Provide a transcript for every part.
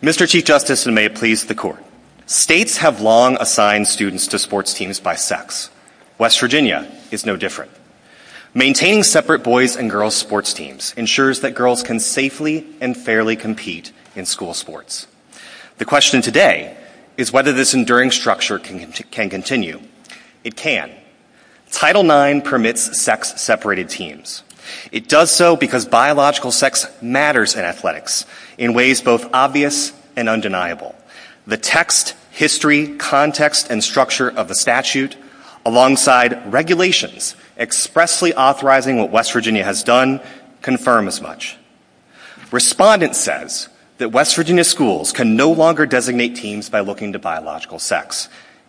Mr. Chief Justice, and may it please the Court, states have long assigned students to sports teams by sex. West Virginia is no different. Maintaining separate boys and girls sports teams ensures that girls can safely and fairly compete in school sports. The question today is whether this enduring structure can continue. It can. Title IX permits sex-separated teams. It does so because biological sex matters in athletics in ways both obvious and undeniable. The text, history, context, and structure of the statute, alongside regulations expressly authorizing what West Virginia has done, confirm as much. Respondent says that West Virginia schools can no longer designate teams by looking to biological sex.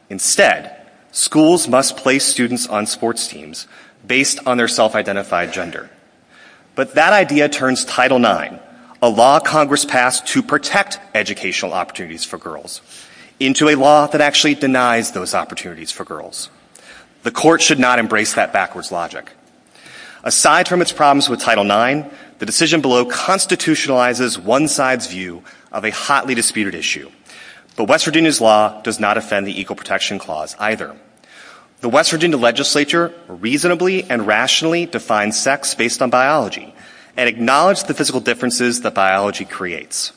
Instead, schools must place students on sports teams based on their self-identified gender. But that idea turns Title IX, a law Congress passed to protect educational opportunities for girls, into a law that actually denies those opportunities for girls. The Court should not embrace that backwards logic. Aside from its problems with Title IX, the decision below constitutionalizes one side's view of a hotly disputed issue. But West Virginia's law does not offend the Equal Protection Clause either. The West Virginia legislature reasonably and rationally defines sex based on biology and acknowledges the physical differences that biology creates.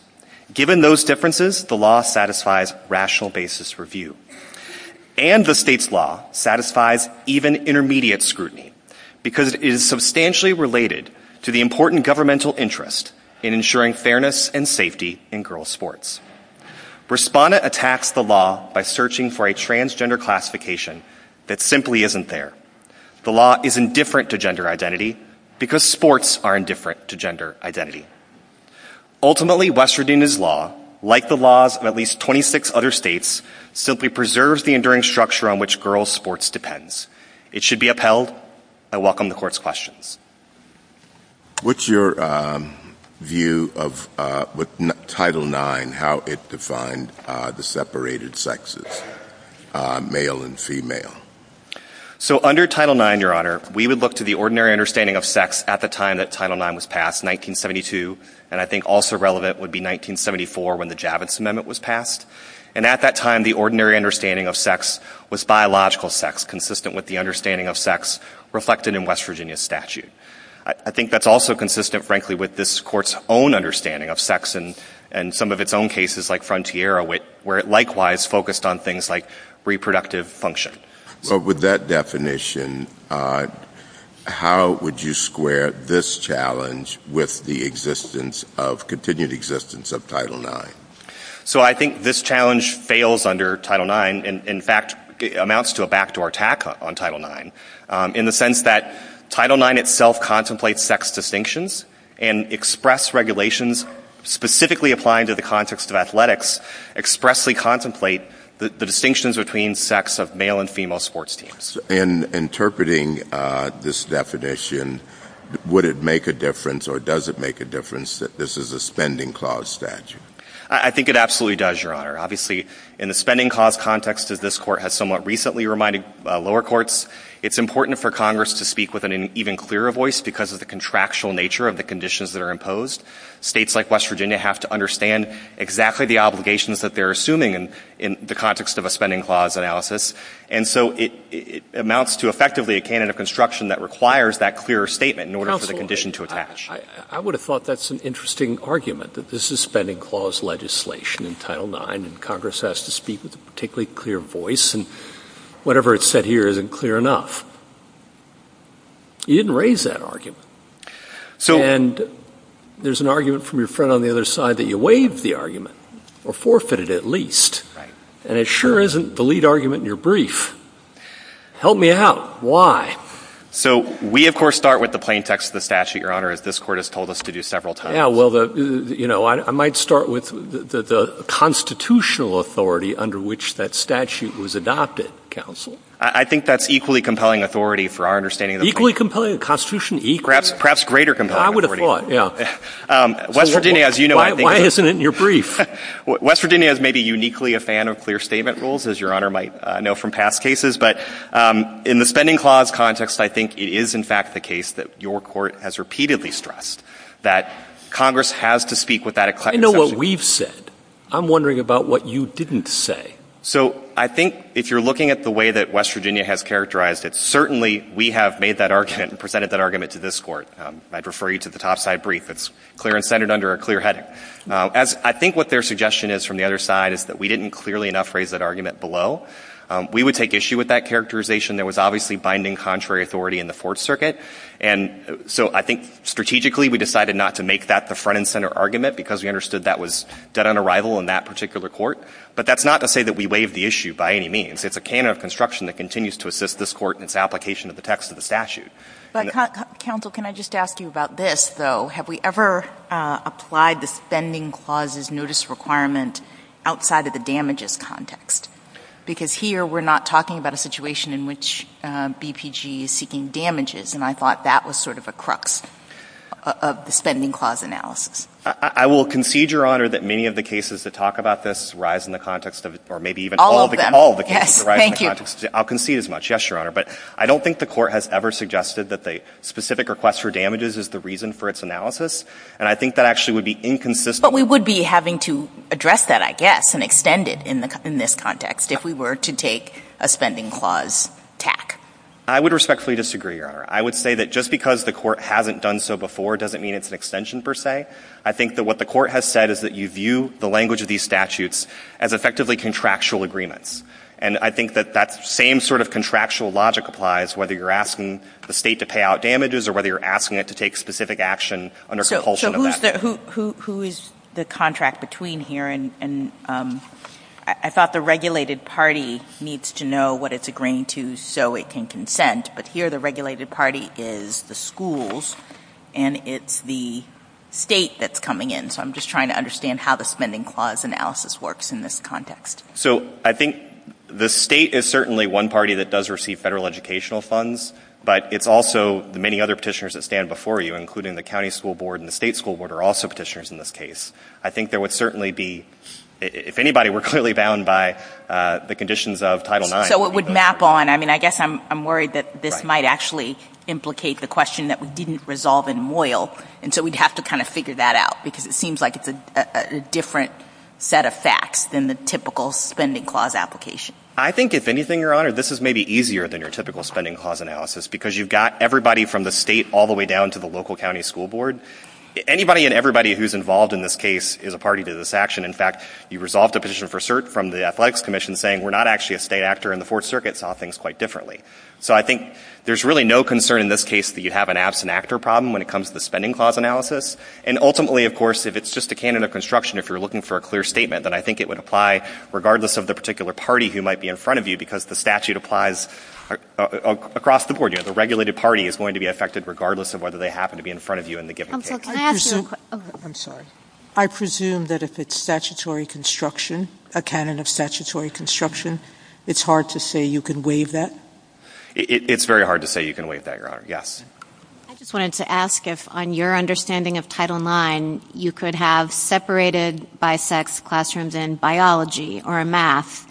Given those differences, the law satisfies rational basis review. And the state's law satisfies even intermediate scrutiny because it is substantially related to the important governmental interest in ensuring fairness and safety in girls' sports. Respondent attacks the law by searching for a transgender classification that simply isn't there. The law is indifferent to gender identity because sports are indifferent to gender identity. Ultimately, West Virginia's law, like the laws of at least 26 other states, simply preserves the enduring structure on which girls' sports depends. It should be upheld. I welcome the Court's questions. What's your view of what Title IX, how it defined the separated sexes, male and female? So under Title IX, Your Honor, we would look to the ordinary understanding of sex at the time that Title IX was passed, 1972, and I think also relevant would be 1974 when the Javits Amendment was passed. And at that time, the ordinary understanding of sex was biological sex, consistent with the understanding of sex reflected in West Virginia's statute. I think that's also consistent, frankly, with this Court's own understanding of sex and some of its own cases, like Frontiero, where it likewise focused on things like reproductive function. With that definition, how would you square this challenge with the existence of, continued existence of Title IX? So I think this challenge fails under Title IX. In fact, it amounts to a backdoor attack on Title IX in the sense that Title IX itself contemplates sex distinctions and express regulations specifically applying to the context of athletics expressly contemplate the distinctions between sex of male and female sports teams. In interpreting this definition, would it make a difference or does it make a difference that this is a spending clause statute? I think it absolutely does, Your Honor. Obviously, in the spending clause context that this Court has somewhat recently reminded lower courts, it's important for Congress to speak with an even clearer voice because of the contractual nature of the conditions that are imposed. States like West Virginia have to understand exactly the obligations that they're assuming in the context of a spending clause analysis. And so it amounts to effectively a canon of construction that requires that clear statement in order for the condition to attach. I would have thought that's an interesting argument that this is spending clause legislation in Title IX and Congress has to speak with a particularly clear voice and whatever it's said here isn't clear enough. You didn't raise that argument. And there's an argument from your friend on the other side that you waived the argument or forfeited it at least. And it sure isn't the lead argument in your brief. Help me out. Why? So we, of course, start with the plain text of the statute, Your Honor, that this Court has told us to do several times. Yeah, well, you know, I might start with the constitutional authority under which that statute was adopted, counsel. I think that's equally compelling authority for our understanding. Equally compelling? Constitutionally equal? Perhaps greater compelling authority. I would have thought, yeah. West Virginia, as you know, I think... Why isn't it in your brief? West Virginia is maybe uniquely a fan of clear statement rules, as Your Honor might know from past cases. But in the spending clause context, I think it is, in fact, the case that your Court has repeatedly stressed, that Congress has to speak with that... I know what we've said. I'm wondering about what you didn't say. So I think if you're looking at the way that West Virginia has characterized it, certainly we have made that argument and presented that argument to this Court. I'd refer you to the topside brief. It's clear and centered under a clear heading. I think what their suggestion is from the other side is that we didn't clearly enough that argument below. We would take issue with that characterization. There was obviously binding contrary authority in the Fourth Circuit. And so I think strategically, we decided not to make that the front and center argument because we understood that was dead on arrival in that particular court. But that's not to say that we waived the issue by any means. It's a canon of construction that continues to assist this Court in its application of the text of the statute. Counsel, can I just ask you about this, though? Have we ever applied the spending clause's notice requirement outside of the damages context? Because here, we're not talking about a situation in which BPG is seeking damages, and I thought that was sort of a crux of the spending clause analysis. I will concede, Your Honor, that many of the cases that talk about this rise in the context of it, or maybe even all of the cases rise in the context of it. All of them. Yes. Thank you. I'll concede as much. Yes, Your Honor. But I don't think the Court has ever suggested that the specific request for damages is the reason for its analysis. And I think that actually would be inconsistent. But we would be having to address that, I guess, and extend it in this context if we were to take a spending clause tack. I would respectfully disagree, Your Honor. I would say that just because the Court hasn't done so before doesn't mean it's an extension, per se. I think that what the Court has said is that you view the language of these statutes as effectively contractual agreements. And I think that that same sort of contractual logic applies whether you're asking the State to pay out damages or whether you're asking it to take specific action under compulsion of that. So who is the contract between here? And I thought the regulated party needs to know what it's agreeing to so it can consent. But here, the regulated party is the schools, and it's the State that's coming in. So I'm just trying to understand how the spending clause analysis works in this context. So I think the State is certainly one party that does receive federal educational funds, but it's also the many other petitioners that stand before you, including the County School Board and the State School Board are also petitioners in this case. I think there would certainly be, if anybody were clearly bound by the conditions of Title IX. So it would map on, I mean, I guess I'm worried that this might actually implicate the question that we didn't resolve in MOYL, and so we'd have to kind of figure that out because it seems like it's a different set of facts than the typical spending clause application. I think, if anything, Your Honor, this is maybe easier than your typical spending clause analysis because you've got everybody from the State all the way down to the local County School Board. Anybody and everybody who's involved in this case is a party to this action. In fact, you resolved a petition for cert from the Athletics Commission saying we're not actually a State actor, and the Fourth Circuit saw things quite differently. So I think there's really no concern in this case that you have an absent actor problem when it comes to the spending clause analysis. And ultimately, of course, if it's just a candidate of construction, if you're looking for a clear statement, then I think it would apply regardless of the particular party who might be in front of you because the statute applies across the board. You know, the regulated party is going to be affected regardless of whether they happen to be in front of you in the given case. I presume that if it's statutory construction, a canon of statutory construction, it's hard to say you can waive that? It's very hard to say you can waive that, Your Honor. Yes. I just wanted to ask if, on your understanding of Title IX, you could have separated bisexual classrooms in biology or in math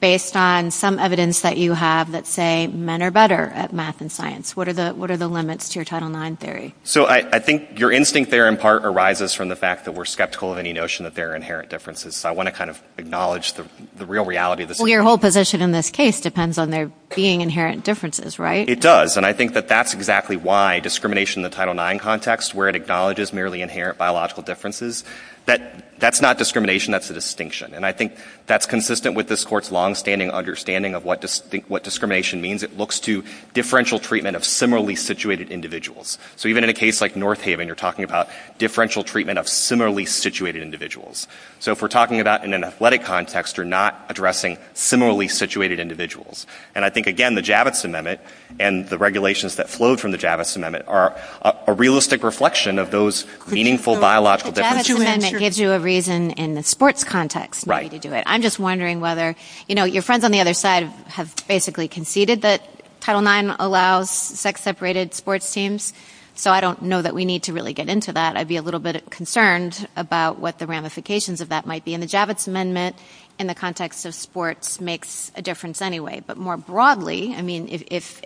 based on some evidence that you have that say men are better at math and science. What are the limits to your Title IX theory? So I think your instinct there, in part, arises from the fact that we're skeptical of any notion that there are inherent differences. So I want to kind of acknowledge the real reality of the situation. Well, your whole position in this case depends on there being inherent differences, right? It does. And I think that that's exactly why discrimination in the Title IX context, where it acknowledges merely inherent biological differences, that that's not discrimination, that's a distinction. And I think that's consistent with this Court's longstanding understanding of what discrimination means. It looks to differential treatment of similarly situated individuals. So even in a case like North Haven, you're talking about differential treatment of similarly situated individuals. So if we're talking about in an athletic context, you're not addressing similarly situated individuals. And I think, again, the Javits Amendment and the regulations that flowed from the Javits Amendment are a realistic reflection of those meaningful biological differences. So the Javits Amendment gives you a reason in the sports context not to do it. I'm just wondering whether, you know, your friends on the other side have basically conceded that Title IX allows sex-separated sports teams. So I don't know that we need to really get into that. I'd be a little bit concerned about what the ramifications of that might be. And the Javits Amendment in the context of sports makes a difference anyway. But more broadly, I mean, if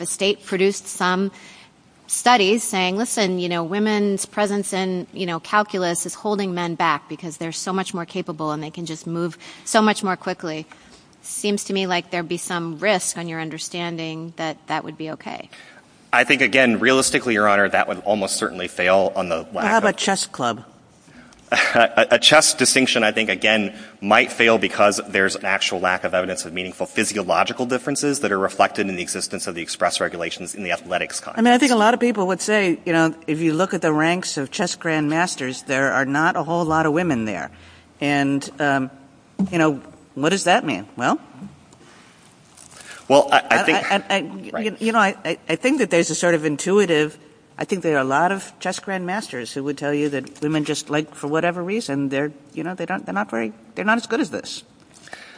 a state produced some studies saying, listen, you know, women's presence in calculus is holding men back because they're so much more capable and they can just move so much more quickly, it seems to me like there'd be some risk on your understanding that that would be okay. I think, again, realistically, Your Honor, that would almost certainly fail on the... What about a chess club? A chess distinction, I think, again, might fail because there's an actual lack of evidence of meaningful physiological differences that are reflected in the existence of the express regulations in the athletics context. I mean, I think a lot of people would say, you know, if you look at the ranks of chess grandmasters, there are not a whole lot of women there. And, you know, what does that mean? Well, you know, I think that there's a sort of intuitive... I think there are a lot of chess grandmasters who would tell you that women just like, for whatever reason, they're, you know, they're not as good as this.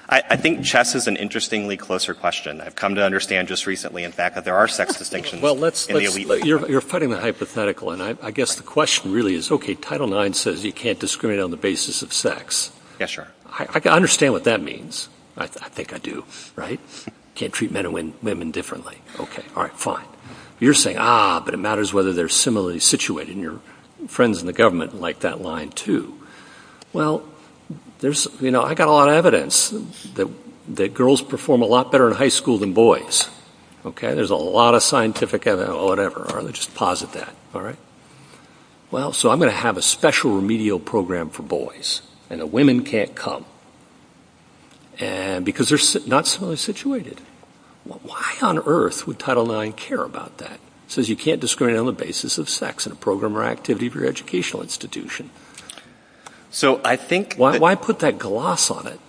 I think chess is an interestingly closer question. I've come to understand just recently, in fact, that there are sex distinctions in the elite leagues. You're putting the hypothetical, and I guess the question really is, okay, Title IX says you can't discriminate on the basis of sex. Yes, Your Honor. I can understand what that means. I think I do, right? You can't treat men and women differently. Okay, all right, fine. You're saying, ah, but it matters whether they're similarly situated, and your friends in the government like that line, too. Well, there's, you know, I've got a lot of evidence that girls perform a lot better in high school than boys. Okay, there's a lot of scientific evidence. Oh, whatever, all right, just posit that, all right? Well, so I'm going to have a special remedial program for boys, and the women can't come, because they're not similarly situated. Why on earth would Title IX care about that? It says you can't discriminate on the basis of sex in a program or activity of your educational institution. So I think... Why put that gloss on it?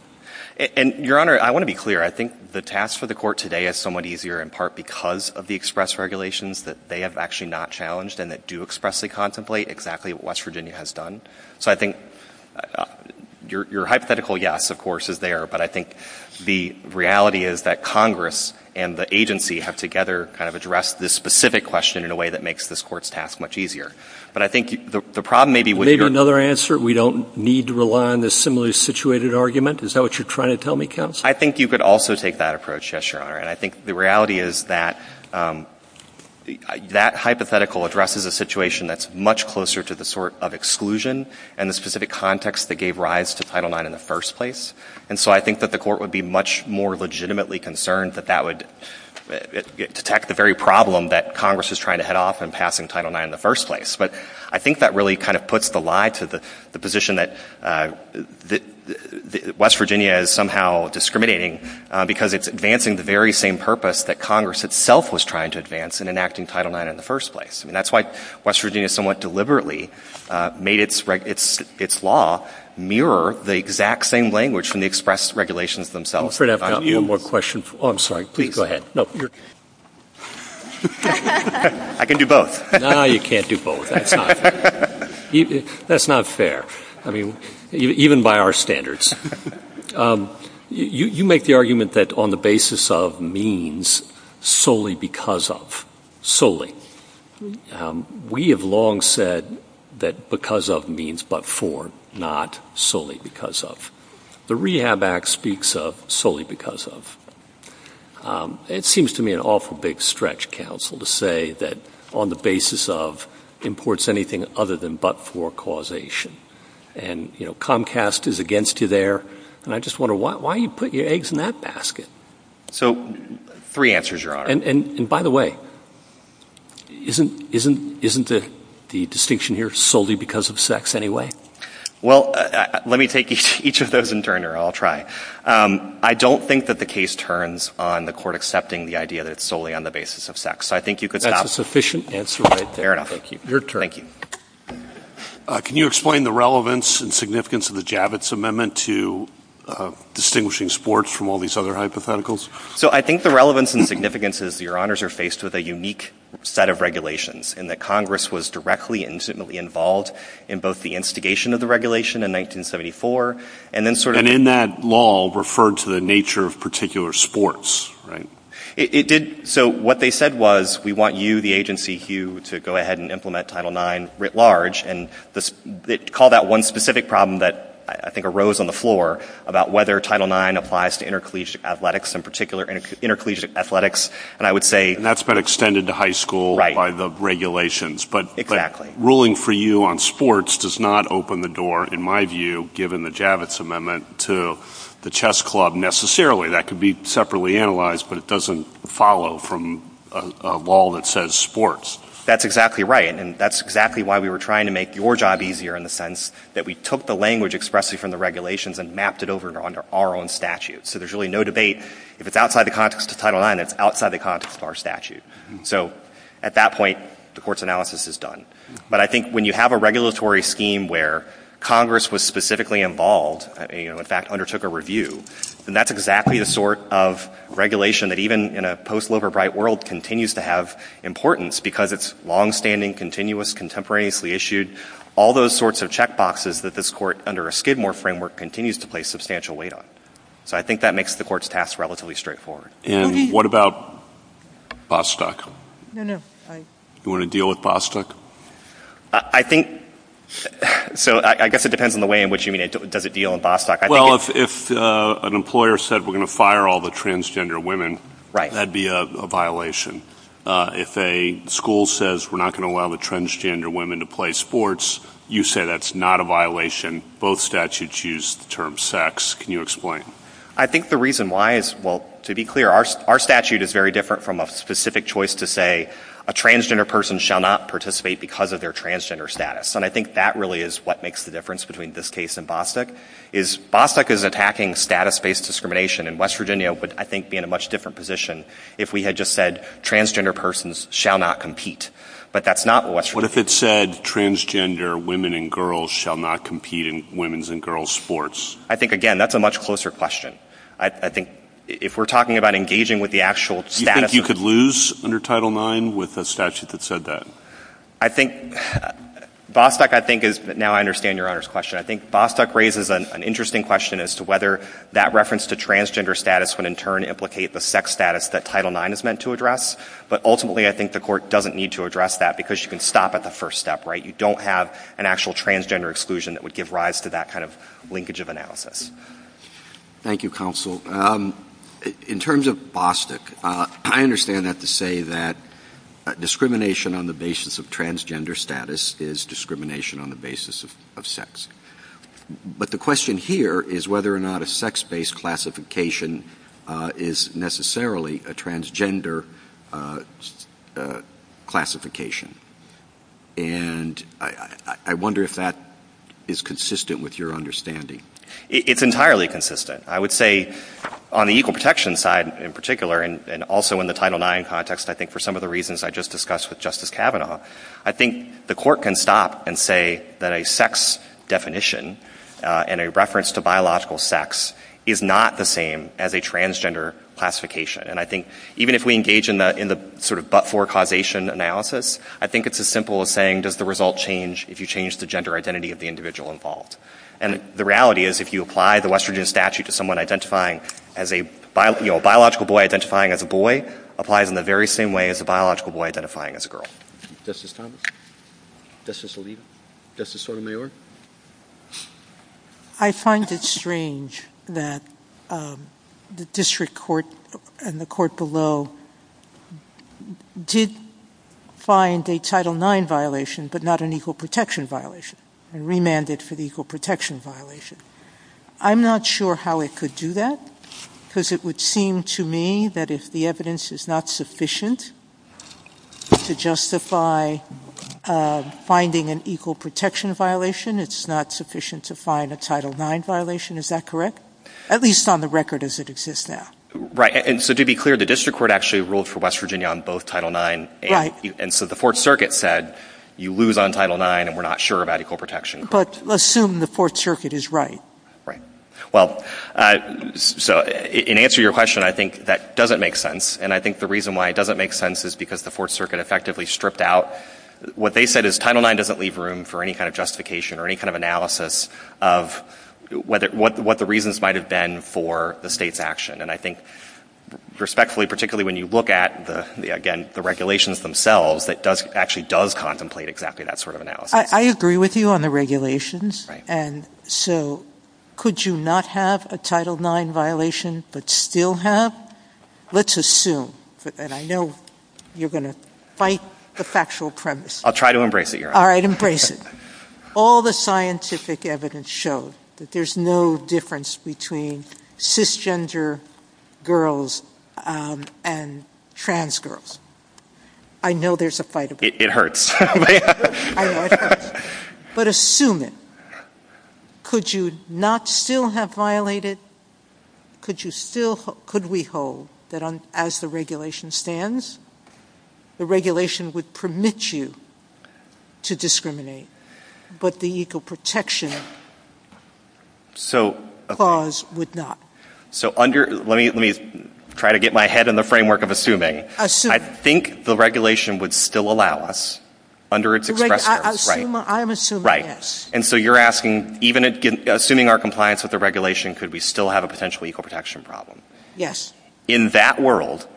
And, Your Honor, I want to be clear. I think the task for the court today is somewhat easier in part because of the express regulations that they have actually not challenged and that do expressly contemplate exactly what West Virginia has done. So I think your hypothetical yes, of course, is there, but I think the reality is that Congress and the agency have together kind of addressed this specific question in a way that makes this court's task much easier. But I think the problem may be with your... Maybe another answer. We don't need to rely on the similarly situated argument. Is that what you're trying to tell me, counsel? I think you could also take that approach, yes, Your Honor. And I think the reality is that that hypothetical addresses a situation that's much closer to the sort of exclusion and the specific context that gave rise to Title IX in the first place. And so I think that the court would be much more legitimately concerned that that would detect the very problem that Congress is trying to head off in passing Title IX in the first place. But I think that really kind of puts the lie to the position that West Virginia is somehow discriminating because it's advancing the very same purpose that Congress itself was trying to advance in enacting Title IX in the first place. I mean, that's why West Virginia somewhat deliberately made its law mirror the exact same language from the express regulations themselves. I'm afraid I've got one more question. Oh, I'm sorry. Please go ahead. I can do both. No, you can't do both. That's not fair. I mean, even by our standards. You make the argument that on the basis of means solely because of, solely. We have long said that because of means but for, not solely because of. The Rehab Act speaks of solely because of. It seems to me an awful big stretch, counsel, to say that on the basis of imports anything other than but for causation. And Comcast is against you there. And I just wonder why you put your eggs in that basket. So three answers, Your Honor. And by the way, isn't the distinction here solely because of sex anyway? Well, let me take each of those in turn here. I'll try. I don't think that the case turns on the court accepting the idea that it's solely on the basis of sex. I think you could stop. That's a sufficient answer. Fair enough. Thank you. Your turn. Thank you. Can you explain the relevance and significance of the Javits Amendment to distinguishing sports from all these other hypotheticals? So I think the relevance and significance is, Your Honors, are faced with a unique set of regulations in that Congress was directly and intimately involved in both the instigation of the regulation in 1974 and then sort of— And in that law referred to the nature of particular sports, right? It did. So what they said was, we want you, the agency, Hugh, to go ahead and implement Title IX writ large. And they called out one specific problem that I think arose on the floor about whether Title IX applies to intercollegiate athletics, in particular intercollegiate athletics. And I would say— And that's been extended to high school. Right. By the regulations. Exactly. But ruling for you on sports does not open the door, in my view, given the Javits Amendment to the chess club necessarily. That could be separately analyzed, but it doesn't follow from a law that says sports. That's exactly right. And that's exactly why we were trying to make your job easier in the sense that we took the language expressly from the regulations and mapped it over under our own statute. So there's really no debate. If it's outside the context of Title IX, it's outside the context of our statute. So at that point, the Court's analysis is done. But I think when you have a regulatory scheme where Congress was specifically involved, you know, in fact, undertook a review, then that's exactly the sort of regulation that even in a post-Loverbright world continues to have importance because it's longstanding, continuous, contemporaneously issued. All those sorts of checkboxes that this Court, under a Skidmore framework, continues to place substantial weight on. So I think that makes the Court's task relatively straightforward. And what about Bostock? No, no. Do you want to deal with Bostock? I think, so I guess it depends on the way in which you mean it. Does it deal with Bostock? Well, if an employer said we're going to fire all the transgender women, that'd be a violation. If a school says we're not going to allow the transgender women to play sports, you say that's not a violation. Both statutes use the term sex. Can you explain? I think the reason why is, well, to be clear, our statute is very different from a specific choice to say a transgender person shall not participate because of their transgender status. And I think that really is what makes the difference between this case and Bostock, is Bostock is attacking status-based discrimination. And West Virginia would, I think, be in a much different position if we had just said transgender persons shall not compete. But that's not what West Virginia... What if it said transgender women and girls shall not compete in women's and girls' sports? I think, again, that's a much closer question. I think if we're talking about engaging with the actual status... You think you could lose under Title IX with a statute that said that? I think, Bostock, I think is, now I understand Your Honor's question. I think Bostock raises an interesting question as to whether that reference to transgender status would in turn implicate the sex status that Title IX is meant to address. But ultimately, I think the court doesn't need to address that because you can stop at the first step, right? You don't have an actual transgender exclusion that would give rise to that kind of linkage of analysis. Thank you, Counsel. In terms of Bostock, I understand not to say that discrimination on the basis of transgender status is discrimination on the basis of sex. But the question here is whether or not a sex-based classification is necessarily a transgender classification. And I wonder if that is consistent with your understanding. It's entirely consistent. I would say on the equal protection side, in particular, and also in the Title IX context, I think for some of the reasons I just discussed with Justice Kavanaugh, I think the court can stop and say that a sex definition and a reference to biological sex is not the same as a transgender classification. And I think even if we engage in the sort of but-for causation analysis, I think it's as simple as saying, does the result change if you change the gender identity of the individual involved? And the reality is if you apply the West Virginia statute to someone identifying as a biological boy identifying as a boy applies in the very same way as a biological boy identifying as a girl. Justice Thomas? Justice Oliva? Justice Sotomayor? I find it strange that the district court and the court below did find a Title IX violation but not an equal protection violation and remanded for the equal protection violation. I'm not sure how it could do that because it would seem to me that if the evidence is not sufficient to justify finding an equal protection violation, it's not sufficient to find a Title IX violation. Is that correct? At least on the record as it exists now. Right. And so to be clear, the district court actually ruled for West Virginia on both Title IX. Right. And so the Fourth Circuit said you lose on Title IX and we're not sure about equal protection. But assume the Fourth Circuit is right. Right. Well, so in answer to your question, I think that doesn't make sense. And I think the reason why it doesn't make sense is because the Fourth Circuit effectively stripped out what they said is Title IX doesn't leave room for any kind of justification or any kind of analysis of what the reasons might have been for the state's action. And I think respectfully, particularly when you look at, again, the regulations themselves, it actually does contemplate exactly that sort of analysis. I agree with you on the regulations. Right. And so could you not have a Title IX violation but still have? Let's assume, and I know you're going to fight the factual premise. I'll try to embrace it, Your Honor. All right, embrace it. All the scientific evidence shows that there's no difference between cisgender girls and trans girls. I know there's a fight about that. It hurts. But assume it. Could you not still have violated? Could we hold that as the regulation stands, the regulation would permit you to discriminate, but the equal protection clause would not? So let me try to get my head in the framework of assuming. Assume. I think the regulation would still allow us under its expression. I'm assuming yes. And so you're asking, even assuming our compliance with the regulation, could we still have a potential equal protection problem? Yes. In that world,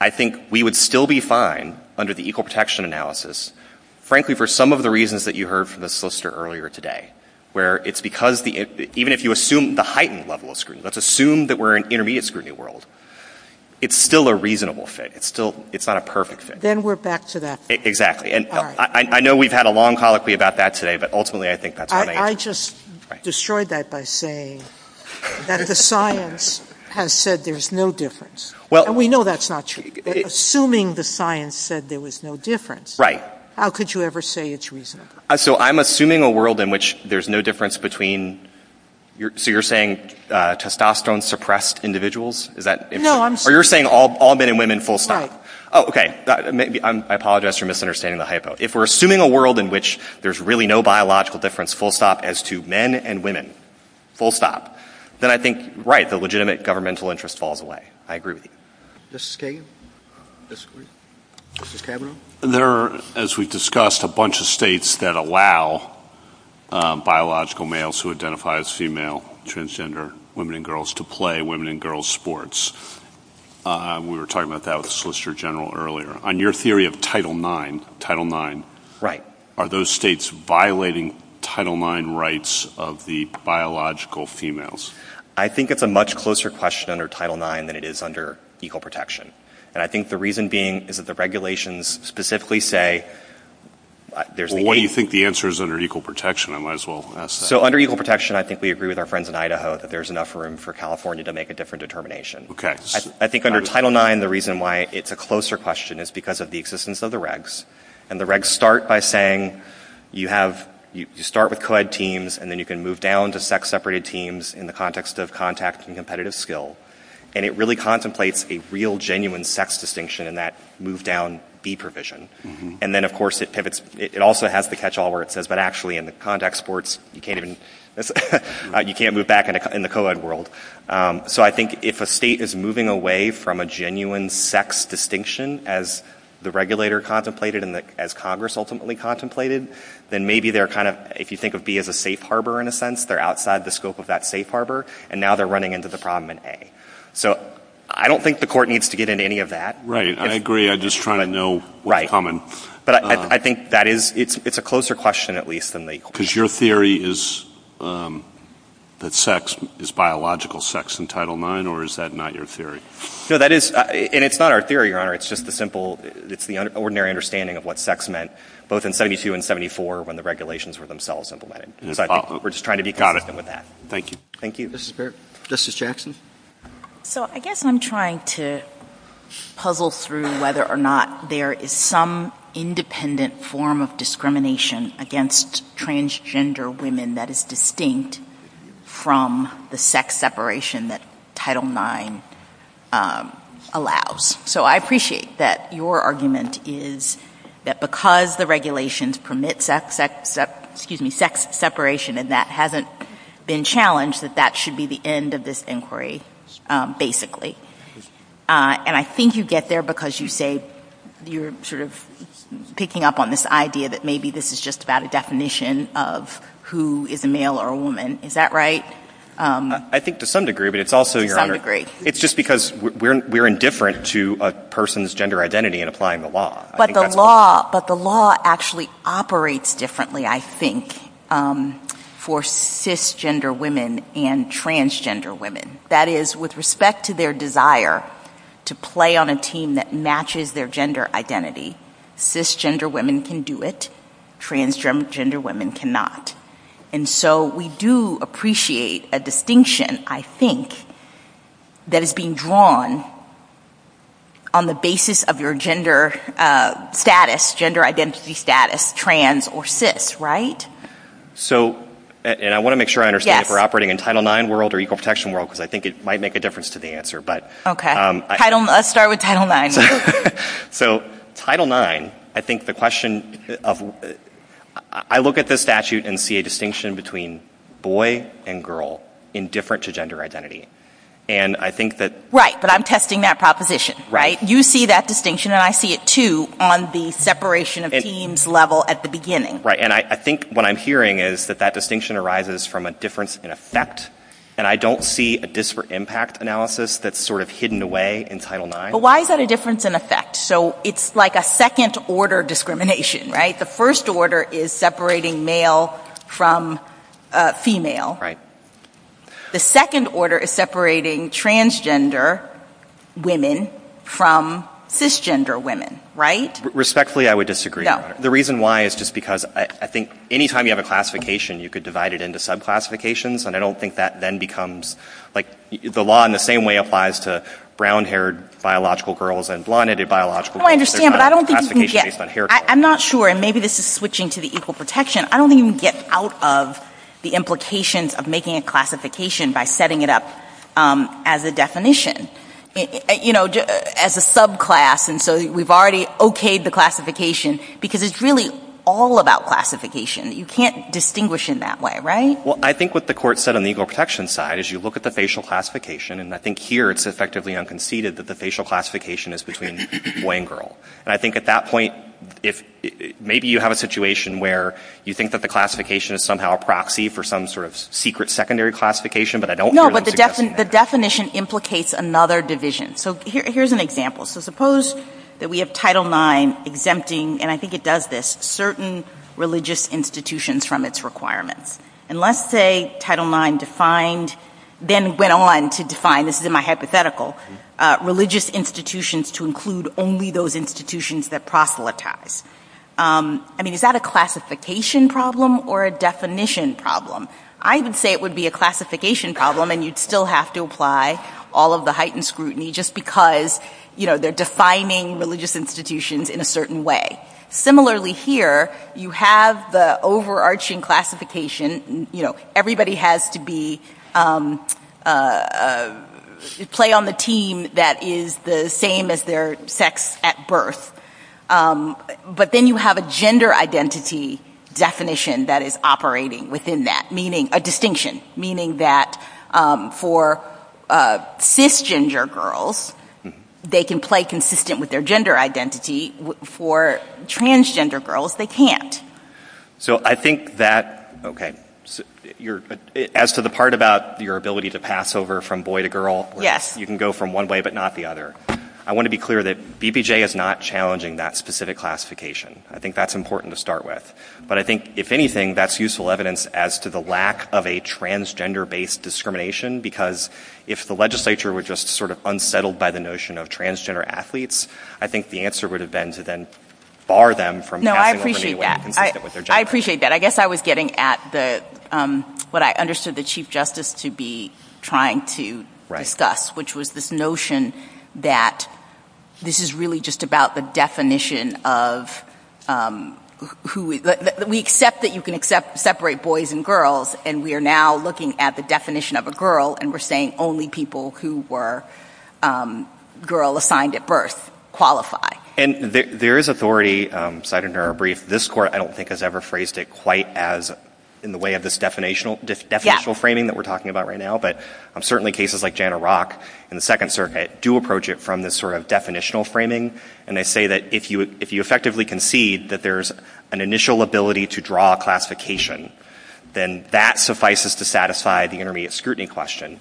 I think we would still be fine under the equal protection analysis, frankly, for some of the reasons that you heard from the solicitor earlier today, where it's because the, even if you assume the heightened level of scrutiny, let's assume that we're in intermediate scrutiny world, it's still a reasonable fit. It's still, it's not a perfect fit. Then we're back to that. Exactly. And I know we've had a long colloquy about that today, but ultimately I think that's what I am. I just destroyed that by saying that the science has said there's no difference. And we know that's not true. Assuming the science said there was no difference, how could you ever say it's reasonable? So I'm assuming a world in which there's no difference between, so you're saying testosterone suppressed individuals? Is that? No, I'm saying... Or you're saying all men and women full stop? Oh, okay. I apologize for misunderstanding the hypo. If we're assuming a world in which there's really no biological difference, full stop, as to men and women, full stop, then I think, right, the legitimate governmental interest falls away. I agree with you. Mrs. Kagan? Mrs. Kavanaugh? There are, as we've discussed, a bunch of states that allow biological males who identify as female, transgender, women and girls, to play women and girls sports. We were talking about that with the Solicitor General earlier. On your theory of Title IX, are those states violating Title IX rights of the biological females? I think it's a much closer question under Title IX than it is under equal protection. And I think the reason being is that the regulations specifically say there's... Well, what do you think the answer is under equal protection? I might as well ask that. So under equal protection, I think we agree with our friends in Idaho that there's enough room for California to make a different determination. I think under Title IX, the reason why it's a closer question is because of the existence of the regs. And the regs start by saying you have... You start with co-ed teams, and then you can move down to sex-separated teams in the context of contact and competitive skill. And it really contemplates a real genuine sex distinction in that move-down be provision. And then, of course, it pivots... It also has the catch-all where it says, but actually in the context sports, you can't move back in the co-ed world. So I think if a state is moving away from a genuine sex distinction as the regulator contemplated and as Congress ultimately contemplated, then maybe they're kind of... If you think of B as a safe harbor, in a sense, they're outside the scope of that safe harbor, and now they're running into the problem in A. So I don't think the court needs to get into any of that. Right. I agree. I'm just trying to know what's coming. But I think that is... It's a closer question, at least, than the... Because your theory is that sex is biological sex in Title IX, or is that not your theory? No, that is... And it's not our theory, Your Honor. It's just the simple... It's the ordinary understanding of what sex meant, both in 72 and 74, when the regulations were themselves implemented. We're just trying to be cognizant of that. Thank you. Thank you. Justice Jackson? So I guess I'm trying to puzzle through whether or not there is some independent form of discrimination against transgender women that is distinct from the sex separation that Title IX allows. So I appreciate that your argument is that because the regulations permit sex separation and that hasn't been challenged, that that should be the end of this inquiry, basically. And I think you get there because you say you're sort of picking up on this idea that maybe this is just about a definition of who is a male or a woman. Is that right? I think to some degree, but it's also, Your Honor, it's just because we're indifferent to a person's gender identity in applying the law. But the law actually operates differently, I think, for cisgender women and transgender women. That is, with respect to their desire to play on a team that matches their gender identity, cisgender women can do it. Transgender women cannot. And so we do appreciate a distinction, I think, that is being drawn on the basis of your gender status, gender identity status, trans or cis, right? So and I want to make sure I understand if we're operating in Title IX world or Equal Protection world, because I think it might make a difference to the answer, but. Okay. Title, let's start with Title IX. So Title IX, I think the question of, I look at this statute and see a distinction between boy and girl, indifferent to gender identity. And I think that. Right, but I'm testing that proposition, right? You see that distinction and I see it too on the separation of teams level at the beginning. Right, and I think what I'm hearing is that that distinction arises from a difference in effect. And I don't see a disparate impact analysis that's sort of hidden away in Title IX. But why is that a difference in effect? So it's like a second order discrimination, right? The first order is separating male from female. Right. The second order is separating transgender women from cisgender women, right? Respectfully, I would disagree. Yeah. The reason why is just because I think any time you have a classification, you could divide it into subclassifications. And I don't think that then becomes, like the law in the same way applies to brown haired biological girls and blond haired biological girls. I understand, but I don't think you can get. I'm not sure, and maybe this is switching to the equal protection. I don't even get out of the implications of making a classification by setting it up as a definition, you know, as a subclass. And so we've already okayed the classification because it's really all about classification. You can't distinguish in that way, right? Well, I think what the court said on the equal protection side is you look at the facial classification, and I think here it's effectively unconceded that the facial classification is between boy and girl. And I think at that point, maybe you have a situation where you think that the classification is somehow a proxy for some sort of secret secondary classification, but I don't... No, but the definition implicates another division. So here's an example. So suppose that we have Title IX exempting, and I think it does this, certain religious institutions from its requirements. And let's say Title IX defined, then went on to define, this is to include only those institutions that proselytize. I mean, is that a classification problem or a definition problem? I would say it would be a classification problem, and you'd still have to apply all of the heightened scrutiny just because, you know, they're defining religious institutions in a certain way. Similarly here, you have the overarching classification, you know, everybody has to be... play on the team that is the same as their sex at birth. But then you have a gender identity definition that is operating within that, meaning... a distinction, meaning that for cisgender girls, they can play consistent with their gender identity. For transgender girls, they can't. So I think that... okay. As to the part about your ability to pass over from boy to girl... Yes. You can go from one way but not the other. I want to be clear that BBJ is not challenging that specific classification. I think that's important to start with. But I think, if anything, that's useful evidence as to the lack of a transgender-based discrimination, because if the legislature were just sort of unsettled by the notion of transgender athletes, I think the answer would have been to then bar them from... No, I appreciate that. I appreciate that. I guess I was getting at the... what I understood the Chief Justice to be trying to discuss, which was this notion that this is really just about the definition of who... we accept that you can separate boys and girls, and we are now looking at the definition of a girl, and we're saying only people who were girl-assigned at birth qualify. And there is authority, cited in our brief, this court I don't think has ever phrased it quite as in the way of this definitional framing that we're talking about right now, but certainly cases like Janna Rock in the Second Circuit do approach it from this sort of definitional framing, and they say that if you effectively concede that there's an initial ability to draw a classification, then that suffices to set aside the intermediate scrutiny question.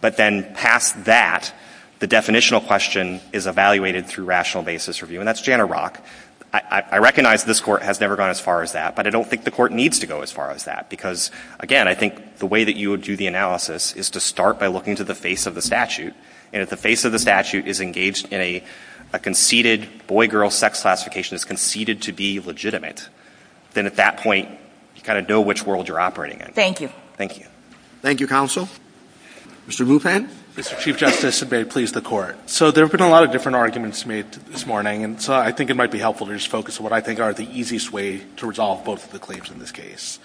But then past that, the definitional question is evaluated through rational basis review, and that's Janna Rock. I recognize this court has never gone as far as that, but I don't think the court needs to go as far as that, because, again, I think the way that you would do the analysis is to start by looking to the face of the statute, and if the face of the statute is engaged in a conceded boy-girl sex classification that's conceded to be legitimate, then at that point, you kind of know which world you're operating in. Thank you. Thank you. Thank you, Counsel. Mr. Rufan? Mr. Chief Justice, and may it please the Court. So there have been a lot of different arguments made this morning, and so I think it might be helpful to just focus on what I think are the easiest way to resolve both of the claims in this case.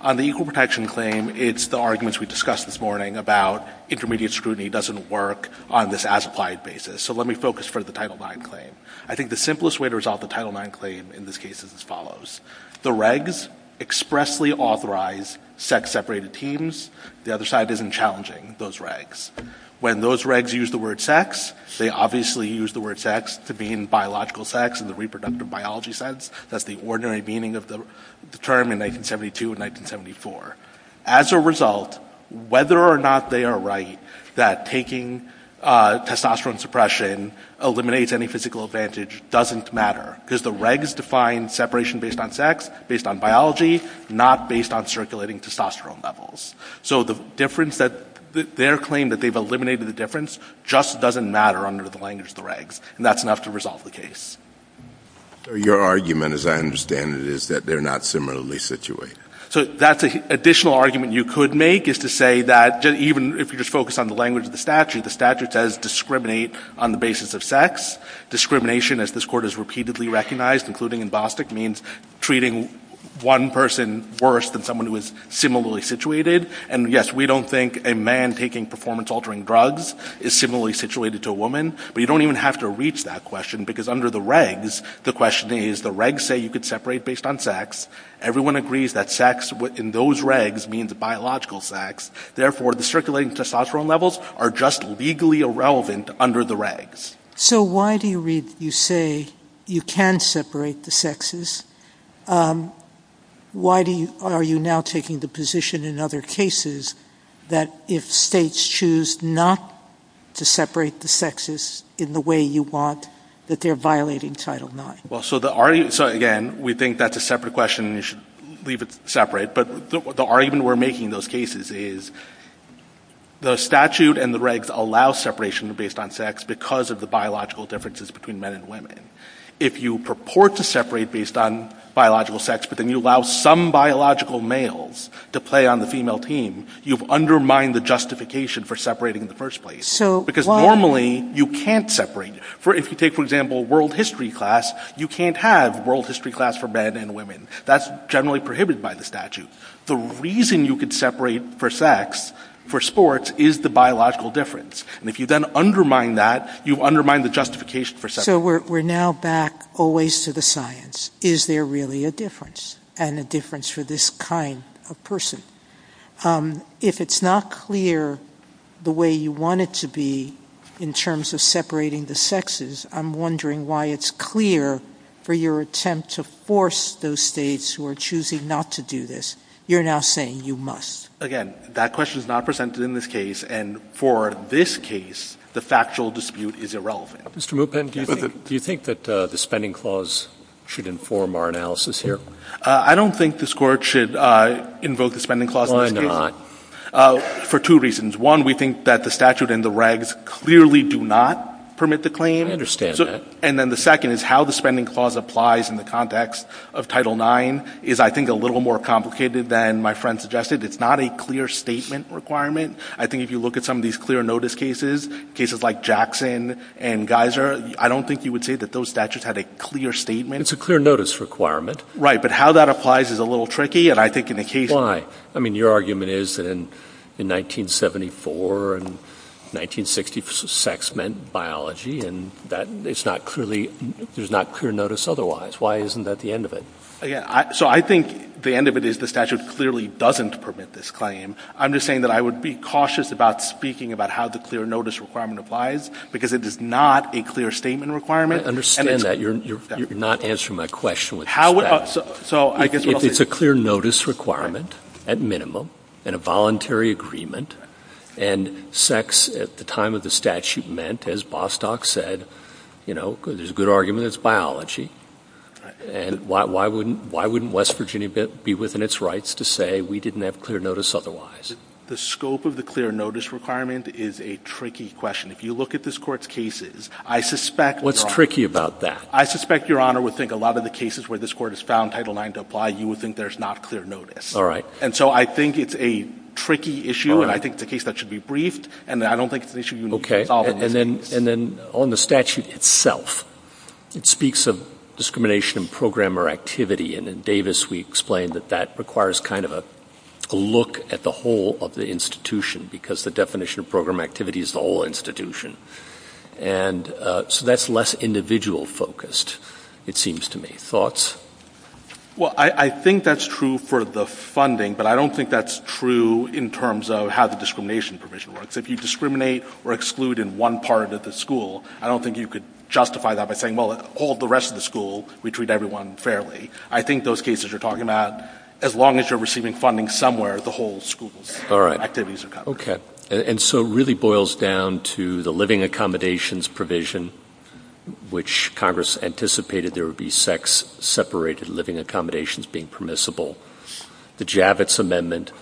On the equal protection claim, it's the arguments we discussed this morning about intermediate scrutiny doesn't work on this as-applied basis. So let me focus for the Title IX claim. I think the simplest way to resolve the Title IX claim in this case is as follows. The regs expressly authorize sex-separated teams. The other side isn't challenging those regs. When those regs use the word sex, they obviously use the word sex to mean biological sex in the reproductive biology sense. That's the ordinary meaning of the term in 1972 and 1974. As a result, whether or not they are right that taking testosterone suppression eliminates any physical advantage doesn't matter, because the regs define separation based on sex, based on biology, not based on circulating testosterone levels. So the difference that—their claim that they've eliminated the difference just doesn't matter under the language of the regs, and that's enough to resolve the case. Your argument, as I understand it, is that they're not similarly situated. So that's an additional argument you could make, is to say that even if you just focus on the language of the statute, the statute says discriminate on the basis of sex. Discrimination, as this Court has repeatedly recognized, including in Bostick, means treating one person worse than someone who is similarly situated. And yes, we don't think a man taking performance-altering drugs is similarly situated to a woman, but you don't even have to reach that question, because under the regs, the question is, the regs say you could separate based on sex. Everyone agrees that sex in those regs means biological sex. Therefore, the circulating testosterone levels are just legally irrelevant under the regs. So why do you say you can separate the sexes? Why are you now taking the position in other cases that if states choose not to separate the sexes in the way you want, that they're violating Title IX? Well, so again, we think that's a separate question, and you should leave it separate. But the argument we're making in those cases is the statute and the regs allow separation based on sex because of the biological differences between men and women. If you purport to separate based on biological sex, but then you allow some biological males to play on the female team, you've undermined the justification for separating in the first place. So why? Because normally, you can't separate. If you take, for example, world history class, you can't have world history class for men and women. That's generally prohibited by the statute. The reason you could separate for sex, for sports, is the biological difference. And if you then undermine that, you undermine the justification for separation. So we're now back always to the science. Is there really a difference, and a difference for this kind of person? If it's not clear the way you want it to be in terms of separating the sexes, I'm wondering why it's clear for your attempt to force those states who are choosing not to do this. You're now saying you must. Again, that question is not presented in this case, and for this case, the factual dispute is irrelevant. Mr. Moopin, do you think that the spending clause should inform our analysis here? I don't think this Court should invoke the spending clause in this case. Why not? For two reasons. One, we think that the statute and the regs clearly do not permit the claim. I understand that. And then the second is how the spending clause applies in the context of Title IX is, I think, a little more complicated than my friend suggested. It's not a clear statement requirement. I think if you look at some of these clear notice cases, cases like Jackson and Geiser, I don't think you would say that those statutes had a clear statement. It's a clear notice requirement. Right, but how that applies is a little tricky, and I think in the case— Why? I mean, your argument is that in 1974 and 1960, sex meant biology, and it's not clearly—there's not clear notice otherwise. Why isn't that the end of it? So I think the end of it is the statute clearly doesn't permit this claim. I'm just saying that I would be cautious about speaking about how the clear notice requirement applies, because it is not a clear statement requirement. I understand that. You're not answering my question. How— It's a clear notice requirement, at minimum, and a voluntary agreement, and sex at the time of the statute meant, as Bostock said, you know, there's a good argument, it's biology, and why wouldn't West Virginia be within its rights to say we didn't have clear notice otherwise? The scope of the clear notice requirement is a tricky question. If you look at this Court's cases, I suspect— What's tricky about that? I suspect Your Honor would think a lot of the cases where this Court has found Title IX to apply, you would think there's not clear notice. All right. And so I think it's a tricky issue, and I think it's a case that should be briefed, and I don't think it's an issue you need to solve. Okay, and then on the statute itself, it speaks of discrimination in program or activity, and in Davis we explained that that requires kind of a look at the whole of the institution, because the definition of program activity is the whole institution. And so that's less individual-focused, it seems to me. Thoughts? Well, I think that's true for the funding, but I don't think that's true in terms of how the discrimination provision works. If you discriminate or exclude in one part of the school, I don't think you could justify that by saying, well, all the rest of the school, we treat everyone fairly. I think those cases you're talking about, as long as you're receiving funding somewhere, the whole school's activities are covered. Okay. And so it really boils down to the living accommodations provision, which Congress anticipated there would be sex-separated living accommodations being permissible, the Javits Amendment,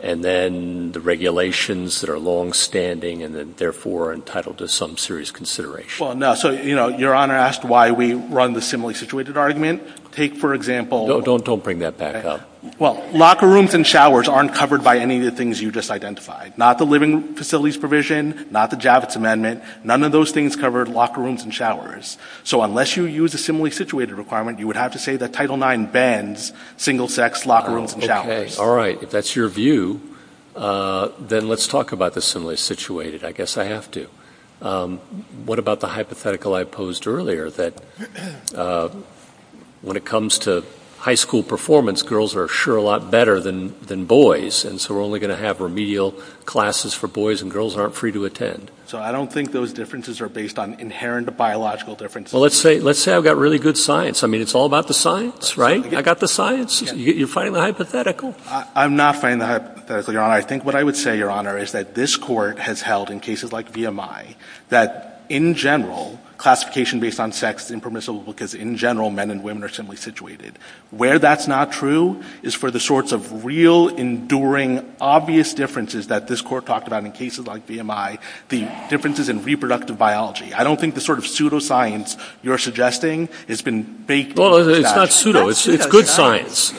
and then the regulations that are longstanding and then, therefore, are entitled to some serious consideration. Well, no. So, you know, Your Honor asked why we run the similarly situated argument. Take, for example — No, don't bring that back up. Well, locker rooms and showers aren't covered by any of the things you just identified. Not the living facilities provision, not the Javits Amendment. None of those things covered locker rooms and showers. So unless you use a similarly situated requirement, you would have to say that Title IX bans single-sex locker rooms and showers. Okay. All right. If that's your view, then let's talk about the similarly situated. I guess I have to. What about the hypothetical I posed earlier that when it comes to high school performance, girls are sure a lot better than boys, and so we're only going to have remedial classes for boys, and girls aren't free to attend? So I don't think those differences are based on inherent biological differences. Well, let's say I've got really good science. I mean, it's all about the science, right? I've got the science. You're fighting the hypothetical. I'm not fighting the hypothetical, Your Honor. I think what I would say, Your Honor, is that this Court has held in cases like VMI that, in general, classification based on sex is impermissible because, in general, men and women are similarly situated. Where that's not true is for the sorts of real, enduring, obvious differences that this Court talked about in cases like VMI, the differences in reproductive biology. I don't think the sort of pseudoscience you're suggesting has been based on that. Well, it's not pseudo. It's good science.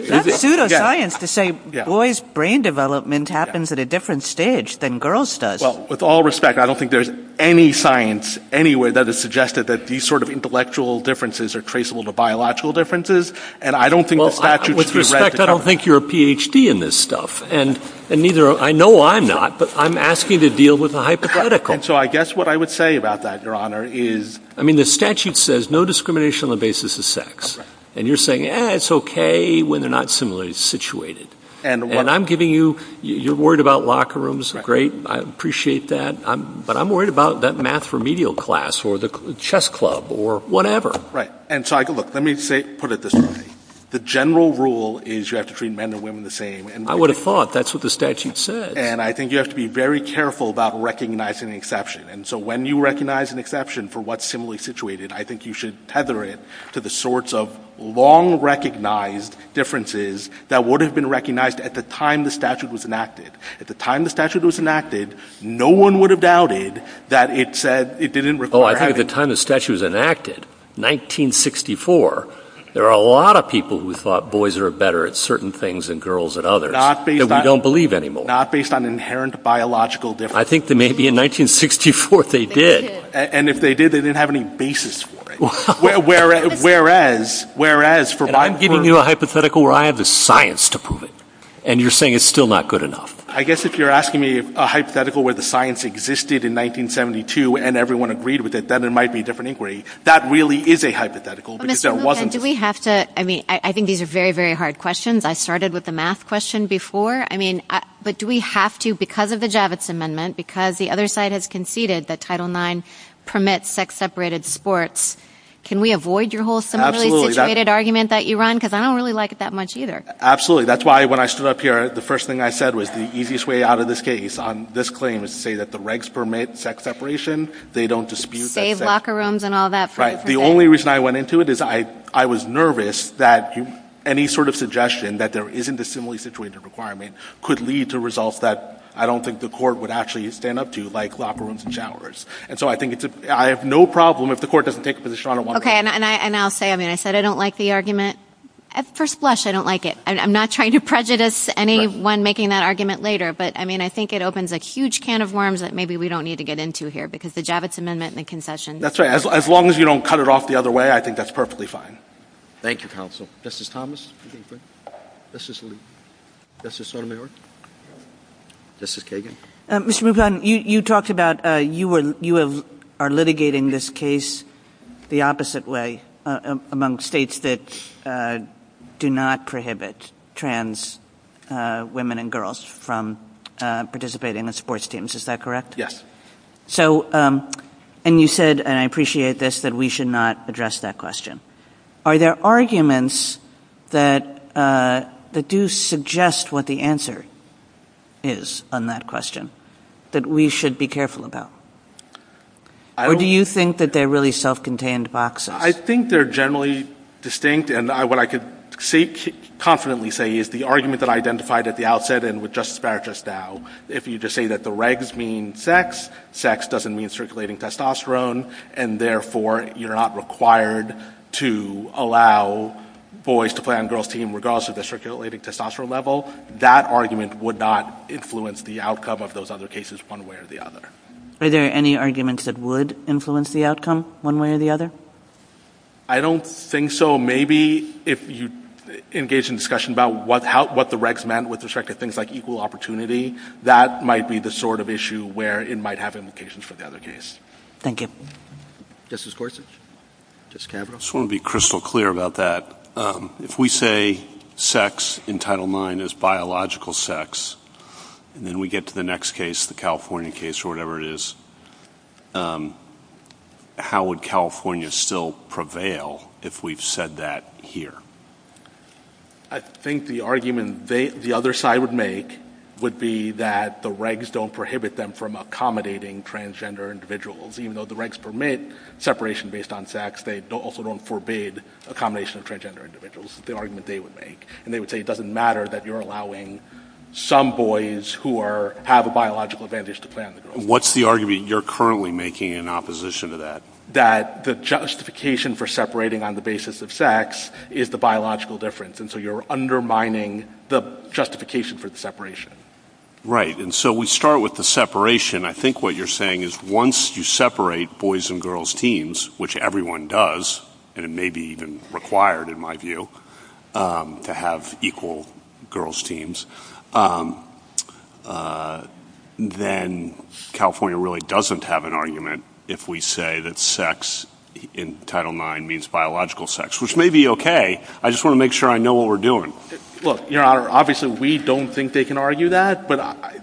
It's not pseudoscience to say boys' brain development happens at a different stage than girls' does. Well, with all respect, I don't think there's any science anywhere that has suggested that these sort of intellectual differences are traceable to biological differences, and I don't think the statute should be read to cover that. Well, with respect, I don't think you're a Ph.D. in this stuff, and I know I'm not, but I'm asking you to deal with the hypothetical. And so I guess what I would say about that, Your Honor, is, I mean, the statute says there's no discrimination on the basis of sex. And you're saying, eh, it's okay when they're not similarly situated. And I'm giving you, you're worried about locker rooms. Great. I appreciate that. But I'm worried about that math remedial class or the chess club or whatever. Right. And so, look, let me put it this way. The general rule is you have to treat men and women the same. I would have thought that's what the statute said. And I think you have to be very careful about recognizing the exception. And so when you recognize an exception for what's similarly situated, I think you should tether it to the sorts of long-recognized differences that would have been recognized at the time the statute was enacted. At the time the statute was enacted, no one would have doubted that it said, it didn't require having them. Oh, I think at the time the statute was enacted, 1964, there were a lot of people who thought boys are better at certain things than girls at others. Not based on. That we don't believe anymore. Not based on inherent biological differences. I think that maybe in 1964 they did. And if they did, they didn't have any basis for it. Whereas, for my part. I'm giving you a hypothetical where I have the science to prove it. And you're saying it's still not good enough. I guess if you're asking me a hypothetical where the science existed in 1972 and everyone agreed with it, then it might be a different inquiry. That really is a hypothetical because there wasn't. Do we have to, I mean, I think these are very, very hard questions. I started with the math question before. But do we have to, because of the Javits Amendment, because the other side has conceded that Title IX permits sex-separated sports, can we avoid your whole similarly situated argument that you run? Because I don't really like it that much either. Absolutely. That's why when I stood up here, the first thing I said was the easiest way out of this case on this claim is to say that the regs permit sex separation. They don't dispute that. Save locker rooms and all that. Right. The only reason I went into it is I was nervous that any sort of suggestion that there isn't a similarly situated requirement could lead to results that I don't think the court would actually stand up to, like locker rooms and showers. And so I think I have no problem if the court doesn't take it for the shot. Okay, and I'll say, I mean, I said I don't like the argument. At first blush, I don't like it. I'm not trying to prejudice anyone making that argument later. But, I mean, I think it opens a huge can of worms that maybe we don't need to get into here because the Javits Amendment and the concession. That's right. As long as you don't cut it off the other way, I think that's perfectly fine. Thank you, Counsel. Justice Thomas. Justice Sotomayor. Justice Kagan. Mr. Muglan, you talked about you are litigating this case the opposite way among states that do not prohibit trans women and girls from participating in sports teams. Is that correct? Yes. So, and you said, and I appreciate this, that we should not address that question. Are there arguments that do suggest what the answer is on that question that we should be careful about? Or do you think that they're really self-contained boxes? I think they're generally distinct. And what I could confidently say is the argument that I identified at the outset and with Justice Barrett just now, if you just say that the regs mean sex, sex doesn't mean circulating testosterone, and therefore you're not required to allow boys to play on girls' team regardless of the circulating testosterone level, that argument would not influence the outcome of those other cases one way or the other. Are there any arguments that would influence the outcome one way or the other? I don't think so. Maybe if you engage in discussion about what the regs meant with respect to things like equal opportunity, that might be the sort of issue where it might have implications for the other case. Thank you. Justice Gorsuch? I just want to be crystal clear about that. If we say sex in Title IX is biological sex, and then we get to the next case, the California case or whatever it is, how would California still prevail if we've said that here? I think the argument the other side would make would be that the regs don't prohibit them from accommodating transgender individuals. Even though the regs permit separation based on sex, they also don't forbid accommodation of transgender individuals, the argument they would make. And they would say it doesn't matter that you're allowing some boys who have a biological advantage to play on the girls' team. What's the argument you're currently making in opposition to that? That the justification for separating on the basis of sex is the biological difference, and so you're undermining the justification for the separation. Right, and so we start with the separation. I think what you're saying is once you separate boys and girls' teams, which everyone does, and it may be even required in my view, to have equal girls' teams, then California really doesn't have an argument if we say that sex in Title IX means biological sex, which may be okay. I just want to make sure I know what we're doing. Well, Your Honor, obviously we don't think they can argue that, but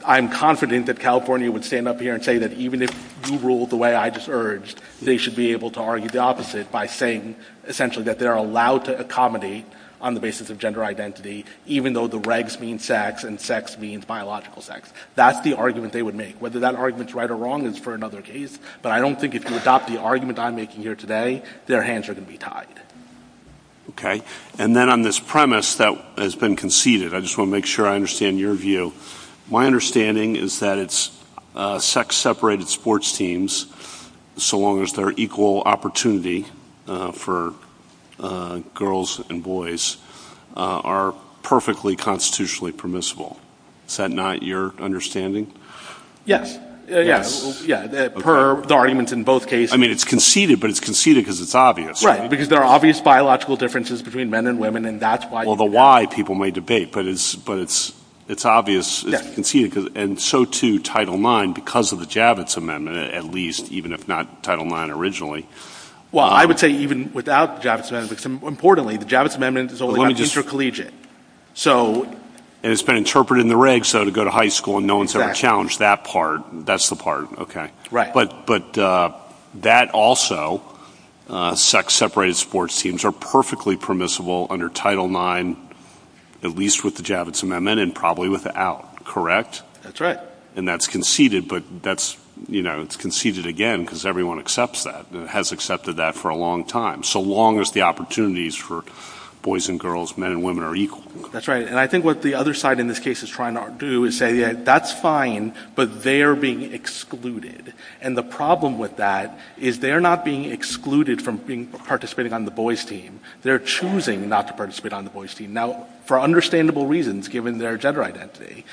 I'm confident that California would stand up here and say that even if you ruled the way I just urged, they should be able to argue the opposite by saying essentially that they're allowed to accommodate on the basis of gender identity, even though the regs mean sex and sex means biological sex. That's the argument they would make. Whether that argument's right or wrong is for another case, but I don't think if you adopt the argument I'm making here today, their hands are going to be tied. Okay. And then on this premise that has been conceded, I just want to make sure I understand your view. My understanding is that it's sex-separated sports teams, so long as they're equal opportunity for girls and boys, are perfectly constitutionally permissible. Is that not your understanding? Yes. Yeah. Per the arguments in both cases. I mean, it's conceded, but it's conceded because it's obvious. Right, because there are obvious biological differences between men and women, and that's why... Well, the why, people may debate, but it's obvious. And so, too, Title IX, because of the Javits Amendment, at least, even if not Title IX originally... Well, I would say even without the Javits Amendment, because importantly, the Javits Amendment is only for teacher collegiate. And it's been interpreted in the regs, so to go to high school and no one's ever challenged that part, that's the part, okay. But that also, sex-separated sports teams, are perfectly permissible under Title IX, at least with the Javits Amendment, and probably without, correct? That's right. And that's conceded, but that's, you know, it's conceded again because everyone accepts that, has accepted that for a long time, so long as the opportunities for boys and girls, men and women, are equal. That's right. And I think what the other side in this case is trying to do is say, yeah, that's fine, but they're being excluded. And the problem with that is they're not being excluded from participating on the boys' team. They're choosing not to participate on the boys' team. Now, for understandable reasons, given their gender identity,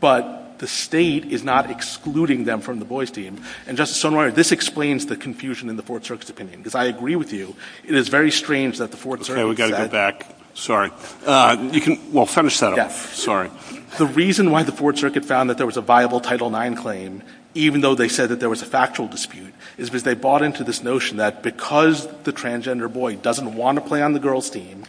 but the state is not excluding them from the boys' team. And, Justice Sotomayor, this explains the confusion in the Fort Serkis opinion, because I agree with you. It is very strange that the Fort Serkis... Sorry, we've got to go back. Sorry. Well, finish that up. Sorry. The reason why the Fort Serkis found that there was a viable Title IX claim, even though they said that there was a factual dispute, is because they bought into this notion that because the transgender boy doesn't want to play on the girls' team...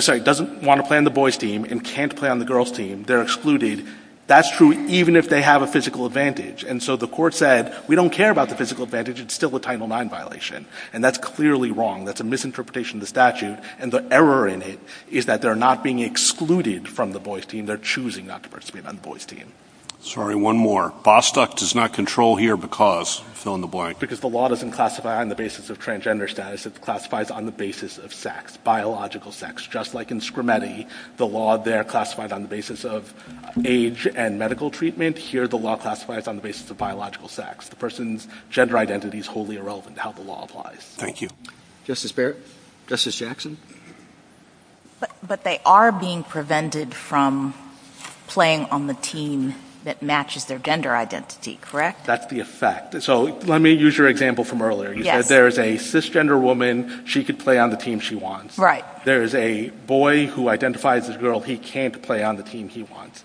Sorry, doesn't want to play on the boys' team and can't play on the girls' team, they're excluded. That's true even if they have a physical advantage. And so the court said, we don't care about the physical advantage. It's still a Title IX violation. And that's clearly wrong. That's a misinterpretation of the statute. And the error in it is that they're not being excluded from the boys' team. They're choosing not to participate on the boys' team. Sorry, one more. Bostock does not control here because... fill in the blank. Because the law doesn't classify on the basis of transgender status. It's classified on the basis of sex, biological sex. Just like in Scrimeti, the law there classified on the basis of age and medical treatment, here the law classifies on the basis of biological sex. The person's gender identity is wholly irrelevant to how the law applies. Thank you. Justice Barrett? Justice Jackson? But they are being prevented from playing on the team that matches their gender identity, correct? That's the effect. So let me use your example from earlier. You said there's a cisgender woman. She could play on the team she wants. There's a boy who identifies as girl. He can't play on the team he wants.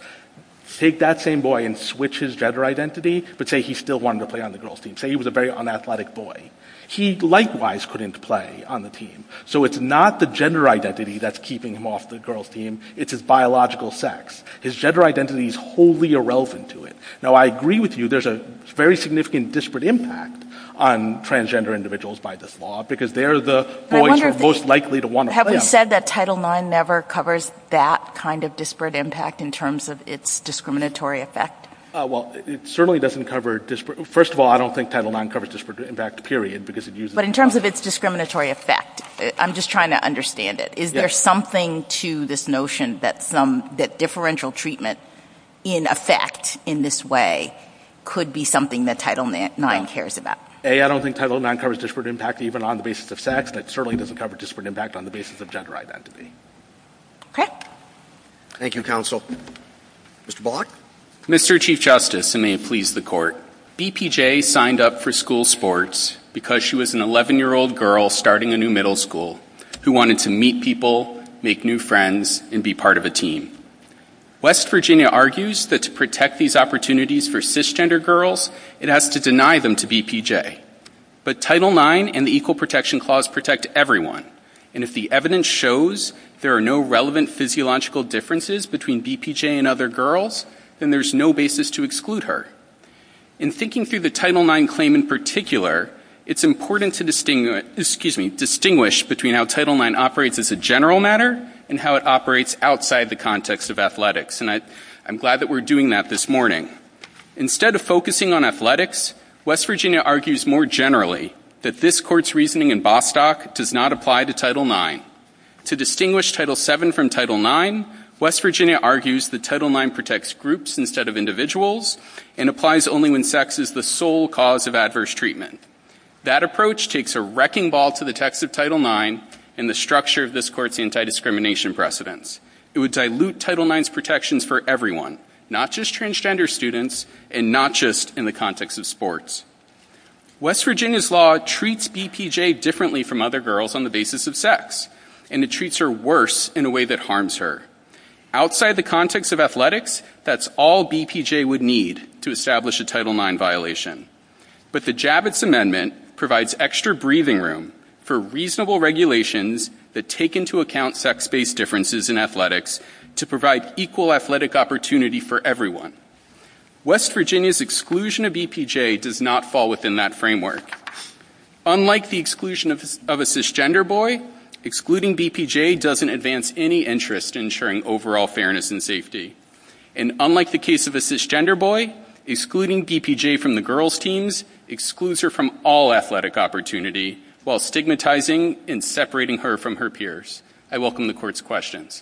Take that same boy and switch his gender identity, but say he still wanted to play on the girls' team. Say he was a very unathletic boy. He likewise couldn't play on the team. So it's not the gender identity that's keeping him off the girls' team. It's his biological sex. His gender identity is wholly irrelevant to it. Now, I agree with you. There's a very significant disparate impact on transgender individuals by this law because they're the boys who are most likely to want to play. Have you said that Title IX never covers that kind of disparate impact in terms of its discriminatory effect? Well, it certainly doesn't cover disparate... First of all, I don't think Title IX covers disparate impact, period, because it uses... But in terms of its discriminatory effect, I'm just trying to understand it. Is there something to this notion that differential treatment in effect, in this way, could be something that Title IX cares about? A, I don't think Title IX covers disparate impact even on the basis of sex. It certainly doesn't cover disparate impact on the basis of gender identity. Okay. Thank you, counsel. Mr. Block? Mr. Chief Justice, and may it please the Court, BPJ signed up for school sports because she was an 11-year-old girl starting a new middle school who wanted to meet people, make new friends, and be part of a team. West Virginia argues that to protect these opportunities for cisgender girls, it has to deny them to BPJ. But Title IX and the Equal Protection Clause protect everyone, and if the evidence shows there are no relevant physiological differences between BPJ and other girls, then there's no basis to exclude her. In thinking through the Title IX claim in particular, it's important to distinguish between how Title IX operates as a general matter and how it operates outside the context of athletics. And I'm glad that we're doing that this morning. Instead of focusing on athletics, West Virginia argues more generally that this Court's reasoning in Bostock does not apply to Title IX. To distinguish Title VII from Title IX, West Virginia argues that Title IX protects groups instead of individuals and applies only when sex is the sole cause of adverse treatment. That approach takes a wrecking ball to the text of Title IX and the structure of this Court's anti-discrimination precedents. It would dilute Title IX's protections for everyone, not just transgender students and not just in the context of sports. West Virginia's law treats BPJ differently from other girls on the basis of sex, and it treats her worse in a way that harms her. Outside the context of athletics, that's all BPJ would need to establish a Title IX violation. But the Javits Amendment provides extra breathing room for reasonable regulations that take into account sex-based differences in athletics to provide equal athletic opportunity for everyone. West Virginia's exclusion of BPJ does not fall within that framework. Unlike the exclusion of a cisgender boy, excluding BPJ doesn't advance any interest in ensuring overall fairness and safety. And unlike the case of a cisgender boy, excluding BPJ from the girls' teams excludes her from all athletic opportunity while stigmatizing and separating her from her peers. I welcome the Court's questions.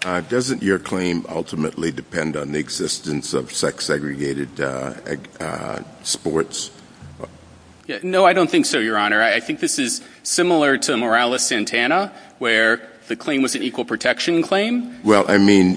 Doesn't your claim ultimately depend on the existence of sex-segregated sports? No, I don't think so, Your Honor. I think this is similar to Morales-Santana, where the claim was an equal protection claim. Well, I mean,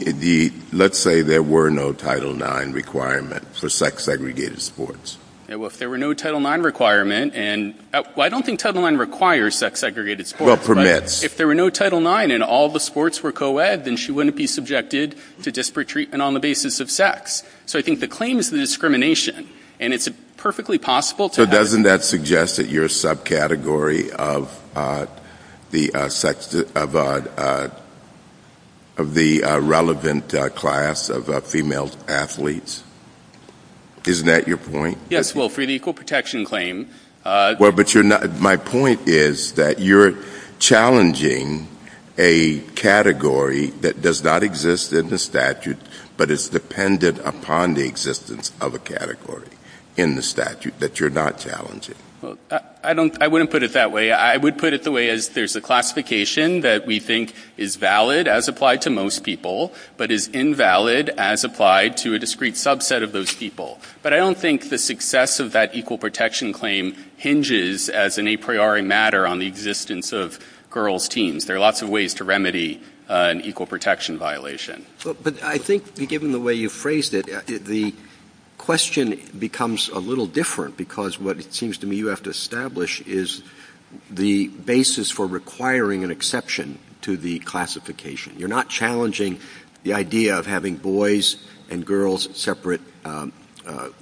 let's say there were no Title IX requirements for sex-segregated sports. Well, if there were no Title IX requirement, and I don't think Title IX requires sex-segregated sports. Well, it permits. If there were no Title IX and all the sports were co-ed, then she wouldn't be subjected to disparate treatment on the basis of sex. So I think the claim is the discrimination, and it's perfectly possible to have... So doesn't that suggest that you're a subcategory of the relevant class of female athletes? Isn't that your point? Yes, well, for the equal protection claim... My point is that you're challenging a category that does not exist in the statute, but is dependent upon the existence of a category in the statute that you're not challenging. I wouldn't put it that way. I would put it the way there's a classification that we think is valid as applied to most people, but is invalid as applied to a discrete subset of those people. But I don't think the success of that equal protection claim hinges as an a priori matter on the existence of girls' teams. There are lots of ways to remedy an equal protection violation. But I think, given the way you phrased it, the question becomes a little different, because what it seems to me you have to establish is the basis for requiring an exception to the classification. You're not challenging the idea of having boys and girls in separate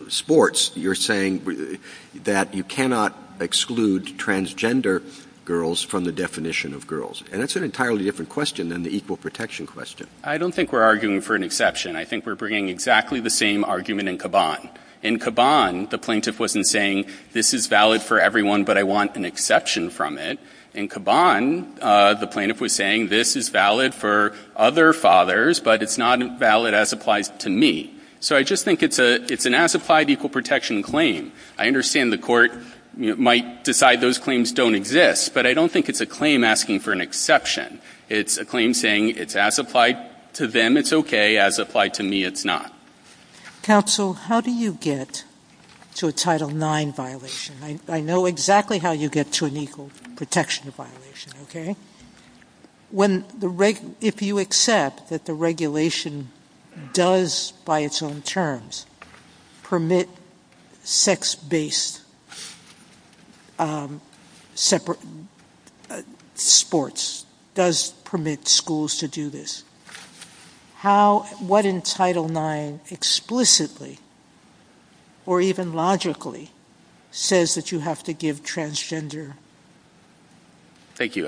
sports. You're saying that you cannot exclude transgender girls from the definition of girls. And that's an entirely different question than the equal protection question. I don't think we're arguing for an exception. I think we're bringing exactly the same argument in Caban. In Caban, the plaintiff wasn't saying, this is valid for everyone, but I want an exception from it. In Caban, the plaintiff was saying, this is valid for other fathers, but it's not as valid as applies to me. So I just think it's an as-applied equal protection claim. I understand the court might decide those claims don't exist, but I don't think it's a claim asking for an exception. It's a claim saying it's as-applied to them, it's okay. As-applied to me, it's not. Counsel, how do you get to a Title IX violation? I know exactly how you get to an equal protection violation, okay? If you accept that the regulation does, by its own terms, permit sex-based sports, does permit schools to do this, what in Title IX explicitly, or even logically, says that you have to give transgender... Thank you.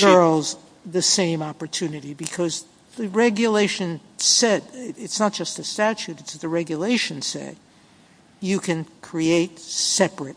...girls the same opportunity? Because the regulation said, it's not just the statute, it's the regulation said, you can create separate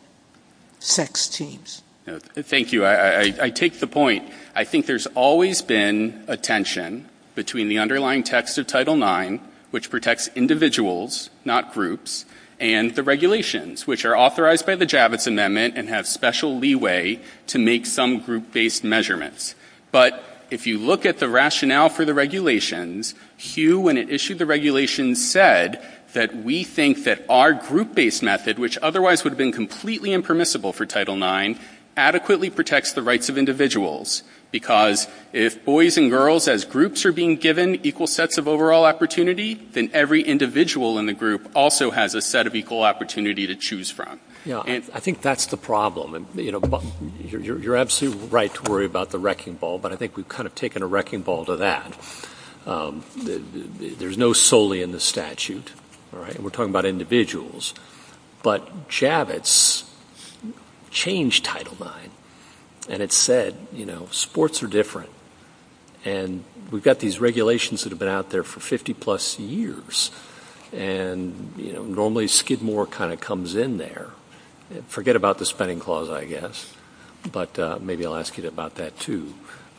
sex teams. Thank you. I take the point. I think there's always been a tension between the underlying text of Title IX, which protects individuals, not groups, and the regulations, which are authorized by the Javits Amendment and have special leeway to make some group-based measurements. But if you look at the rationale for the regulations, Hugh, when it issued the regulations, said that we think that our group-based method, which otherwise would have been completely impermissible for Title IX, adequately protects the rights of individuals. Because if boys and girls, as groups, are being given equal sets of overall opportunity, then every individual in the group also has a set of equal opportunity to choose from. I think that's the problem. You're absolutely right to worry about the wrecking ball, but I think we've kind of taken a wrecking ball to that. There's no solely in the statute. We're talking about individuals. But Javits changed Title IX. And it said, sports are different. And we've got these regulations that have been out there for 50-plus years. And normally Skidmore kind of comes in there. Forget about the spending clause, I guess. But maybe I'll ask you about that, too.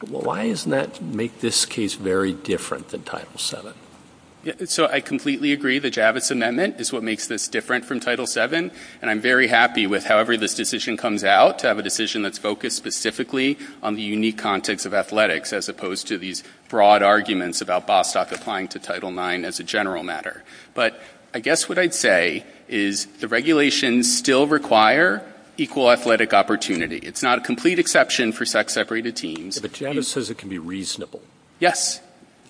Why doesn't that make this case very different than Title VII? So I completely agree. The Javits Amendment is what makes this different from Title VII. And I'm very happy with however this decision comes out, to have a decision that's focused specifically on the unique context of athletics as opposed to these broad arguments about Bostock applying to the general matter. But I guess what I'd say is the regulations still require equal athletic opportunity. It's not a complete exception for sex-separated teams. But Javits says it can be reasonable. Yes.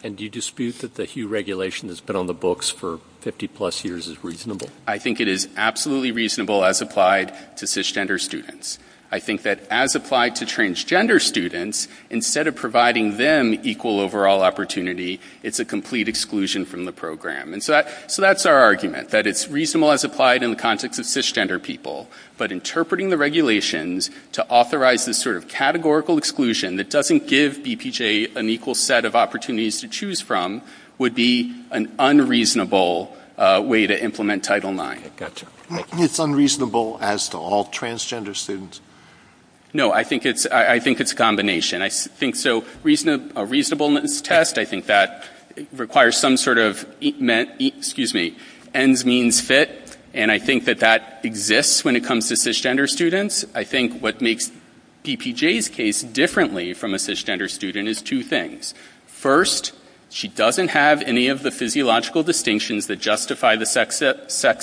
And do you dispute that the hue regulation that's been on the books for 50-plus years is reasonable? I think it is absolutely reasonable as applied to cisgender students. I think that as applied to transgender students, instead of providing them equal overall opportunity, it's a complete exclusion from the program. And so that's our argument, that it's reasonable as applied in the context of cisgender people. But interpreting the regulations to authorize this sort of categorical exclusion that doesn't give DPJ an equal set of opportunities to choose from would be an unreasonable way to implement Title IX. It's unreasonable as to all transgender students. No, I think it's a combination. I think so. A reasonableness test, I think that requires some sort of, excuse me, ends means fit. And I think that that exists when it comes to cisgender students. I think what makes DPJ's case differently from a cisgender student is two things. First, she doesn't have any of the physiological distinctions that justify the sex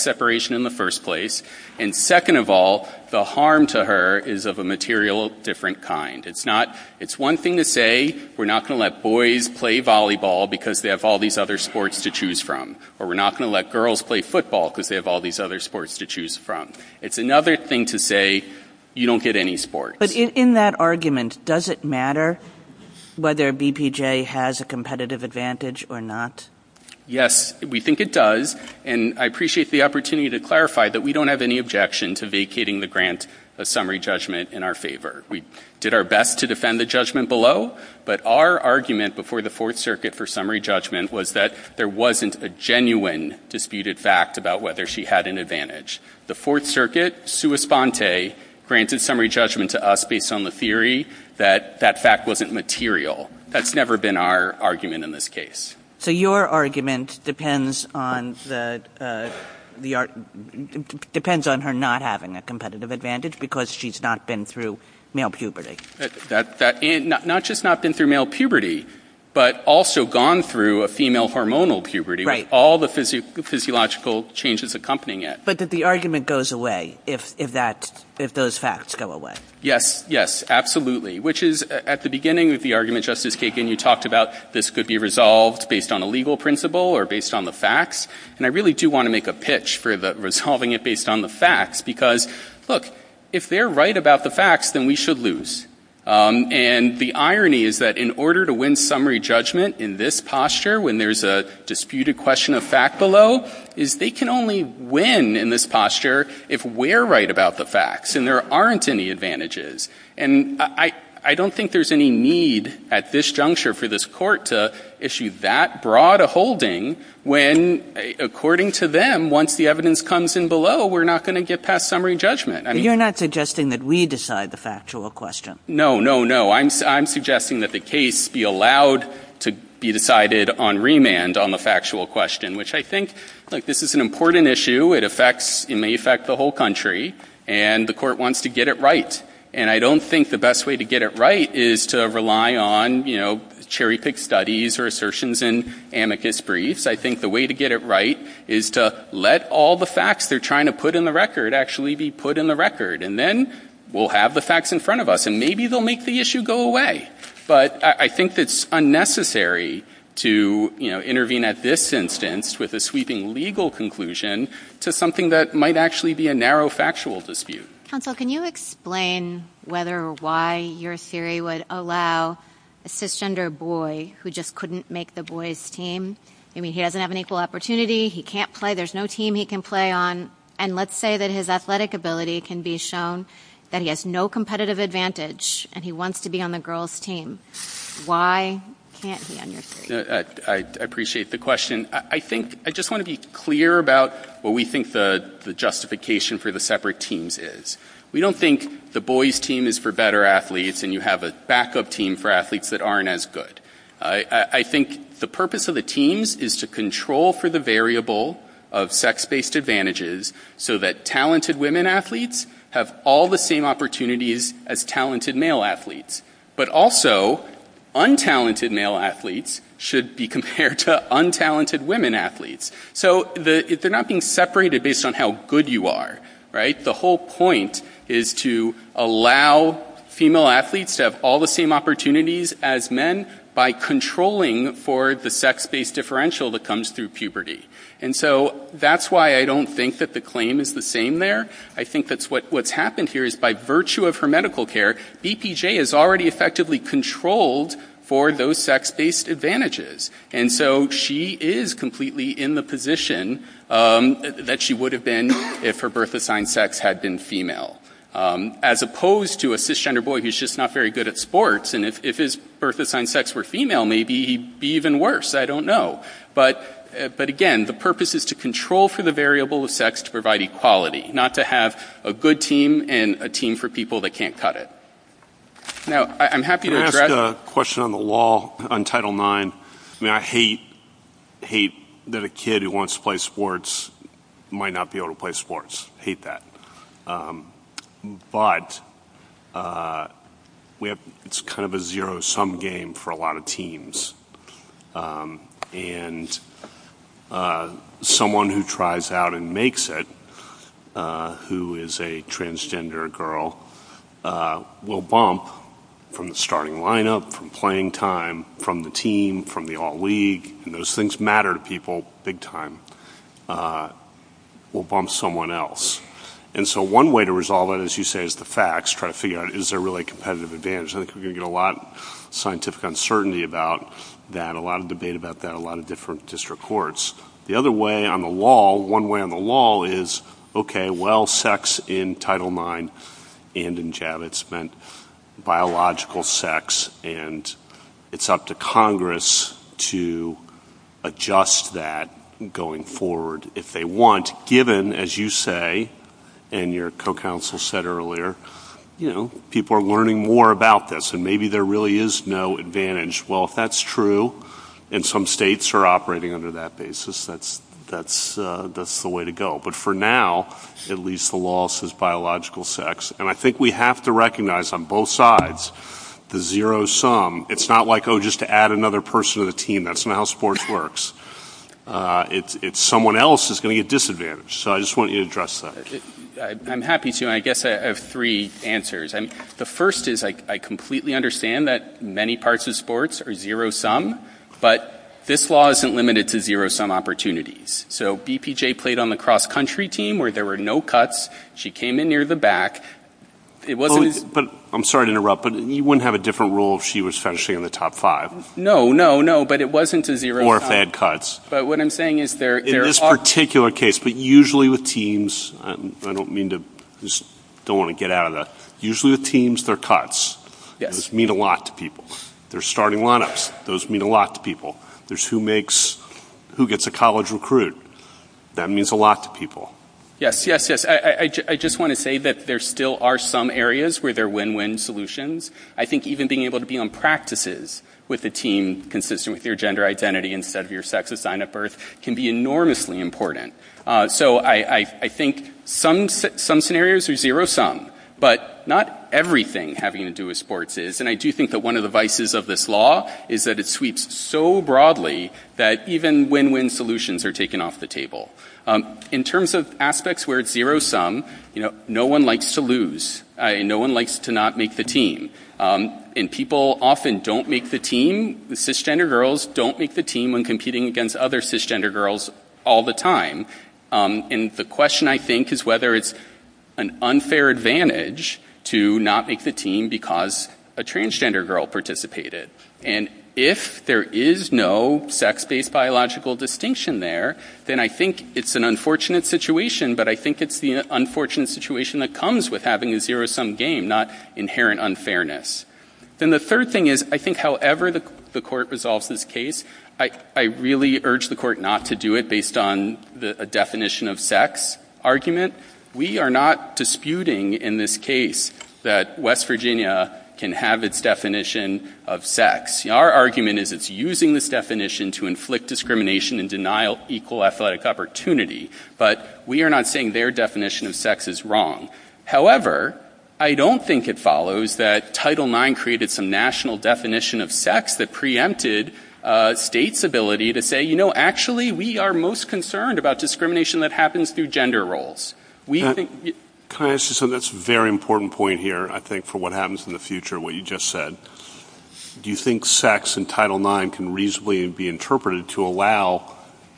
separation in the first place. And second of all, the harm to her is of a material different kind. It's one thing to say, we're not going to let boys play volleyball because they have all these other sports to choose from. Or we're not going to let girls play football because they have all these other sports to choose from. It's another thing to say, you don't get any sports. But in that argument, does it matter whether DPJ has a competitive advantage or not? Yes, we think it does. And I appreciate the opportunity to clarify that we don't have any objection to vacating the grant of summary judgment in our favor. We did our best to defend the judgment below. But our argument before the Fourth Circuit for summary judgment was that there wasn't a genuine disputed fact about whether she had an advantage. The Fourth Circuit, sua sponte, granted summary judgment to us based on the theory that that fact wasn't material. That's never been our argument in this case. So your argument depends on the, depends on her not having a competitive advantage because she's not been through male puberty. Not just not been through male puberty, but also gone through a female hormonal puberty, all the physiological changes accompanying it. But that the argument goes away if those facts go away. Yes. Yes, absolutely. Which is at the beginning of the argument, Justice Kagan, you talked about this could be resolved based on a legal principle or based on the facts. And I really do want to make a pitch for resolving it based on the facts because look, if they're right about the facts, then we should lose. And the irony is that in order to win summary judgment in this posture, when there's a disputed question of fact below is they can only win in this posture if we're right about the facts and there aren't any advantages. And I, I don't think there's any need at this juncture for this court to issue that broad a holding when according to them, once the evidence comes in below, we're not going to get past summary judgment. You're not suggesting that we decide the factual question. No, no, no. I'm suggesting that the case be allowed to be decided on remand on the factual question, which I think like this is an important issue. It affects, it may affect the whole country and the court wants to get it right. And I don't think the best way to get it right is to rely on, you know, cherry pick studies or assertions in amicus briefs. I think the way to get it right is to let all the facts they're trying to put in the record actually be put in the record. And then we'll have the facts in front of us and maybe they'll make the issue go away. But I think it's unnecessary to, you know, intervene at this instance with a sweeping legal conclusion to something that might actually be a narrow factual dispute. Can you explain whether or why your theory would allow a cisgender boy who just couldn't make the boys team? I mean, he doesn't have an equal opportunity. He can't play. There's no team he can play on. And let's say that his athletic ability can be shown that he has no competitive advantage and he wants to be on the girls team. Why can't he on your team? I appreciate the question. I think, I just want to be clear about what we think the justification for the separate teams is. We don't think the boys team is for better athletes and you have a backup team for athletes that aren't as good. I think the purpose of the teams is to control for the variable of sex-based advantages so that talented women athletes have all the same opportunities as talented male athletes, but also untalented male athletes should be compared to untalented women athletes. So they're not being separated based on how good you are, right? The whole point is to allow female athletes to have all the same opportunities as men by controlling for the sex-based differential that comes through puberty. And so that's why I don't think that the claim is the same there. I think that's what's happened here is by virtue of her medical care, BPJ is already effectively controlled for those sex-based advantages. And so she is completely in the position that she would have been if her birth assigned sex had been female. As opposed to a cisgender boy who's just not very good at sports, and if his birth assigned sex were female, maybe he'd be even worse. I don't know. But again, the purpose is to control for the variable of sex to provide equality, not to have a good team and a team for people that can't cut it. Now, I'm happy to address- Can I ask a question on the law on Title IX? I mean, I hate that a kid who wants to play sports might not be able to play sports. I hate that. But it's kind of a zero-sum game for a lot of teams. And someone who tries out and makes it, who is a transgender girl, will bump from the starting lineup, from playing time, from the team, from the all-league, and those things matter to people big time, will bump someone else. And so one way to resolve that, as you say, is the facts. Try to figure out, is there really a competitive advantage? I think we're going to get a lot of scientific uncertainty about that, a lot of debate about that, a lot of different district courts. The other way on the law, one way on the law is, okay, well, sex in Title IX and in JABBITS meant biological sex, and it's up to Congress to adjust that going forward if they want, given, as you say, and your co-counsel said earlier, people are learning more about this, and maybe there really is no advantage. Well, if that's true, and some states are operating under that basis, that's the way to go. But for now, at least the law says biological sex. And I think we have to recognize on both sides the zero sum. It's not like, oh, just to add another person to the team. That's not how sports works. It's someone else is going to get disadvantaged. So I just want you to address that. I'm happy to, and I guess I have three answers. The first is I completely understand that many parts of sports are zero sum, but this law isn't limited to zero sum opportunities. So BPJ played on the cross-country team where there were no cuts. She came in near the back. I'm sorry to interrupt, but you wouldn't have a different rule if she was finishing in the top five. No, no, no, but it wasn't a zero sum. Or if they had cuts. But what I'm saying is there are. In this particular case, but usually with teams, I don't mean to just don't want to get out of that. Usually with teams, there are cuts. Those mean a lot to people. There's starting lineups. Those mean a lot to people. There's who gets a college recruit. That means a lot to people. Yes, yes, yes, I just want to say that there still are some areas where there are win-win solutions. I think even being able to be on practices with a team consistent with your gender identity instead of your sex assigned at birth can be enormously important. So I think some scenarios are zero sum, but not everything having to do with sports is. And I do think that one of the vices of this law is that it sweeps so broadly that even win-win solutions are taken off the table. In terms of aspects where it's zero sum, no one likes to lose. No one likes to not make the team. And people often don't make the team. Cisgender girls don't make the team when competing against other cisgender girls all the time. And the question, I think, is whether it's an unfair advantage to not make the team because a transgender girl participated. And if there is no sex-based biological distinction there, then I think it's an unfortunate situation, but I think it's the unfortunate situation that comes with having a zero sum game, not inherent unfairness. And the third thing is I think however the court resolves this case, I really urge the court not to do it based on a definition of sex argument. We are not disputing in this case that West Virginia can have its definition of sex. Our argument is it's using this definition to inflict discrimination and denial of equal athletic opportunity. But we are not saying their definition of sex is wrong. However, I don't think it follows that Title IX created some national definition of sex that preempted states' ability to say, you know, actually we are most concerned about discrimination that happens through gender roles. Can I ask you something? That's a very important point here, I think, for what happens in the future, what you just said. Do you think sex in Title IX can reasonably be interpreted to allow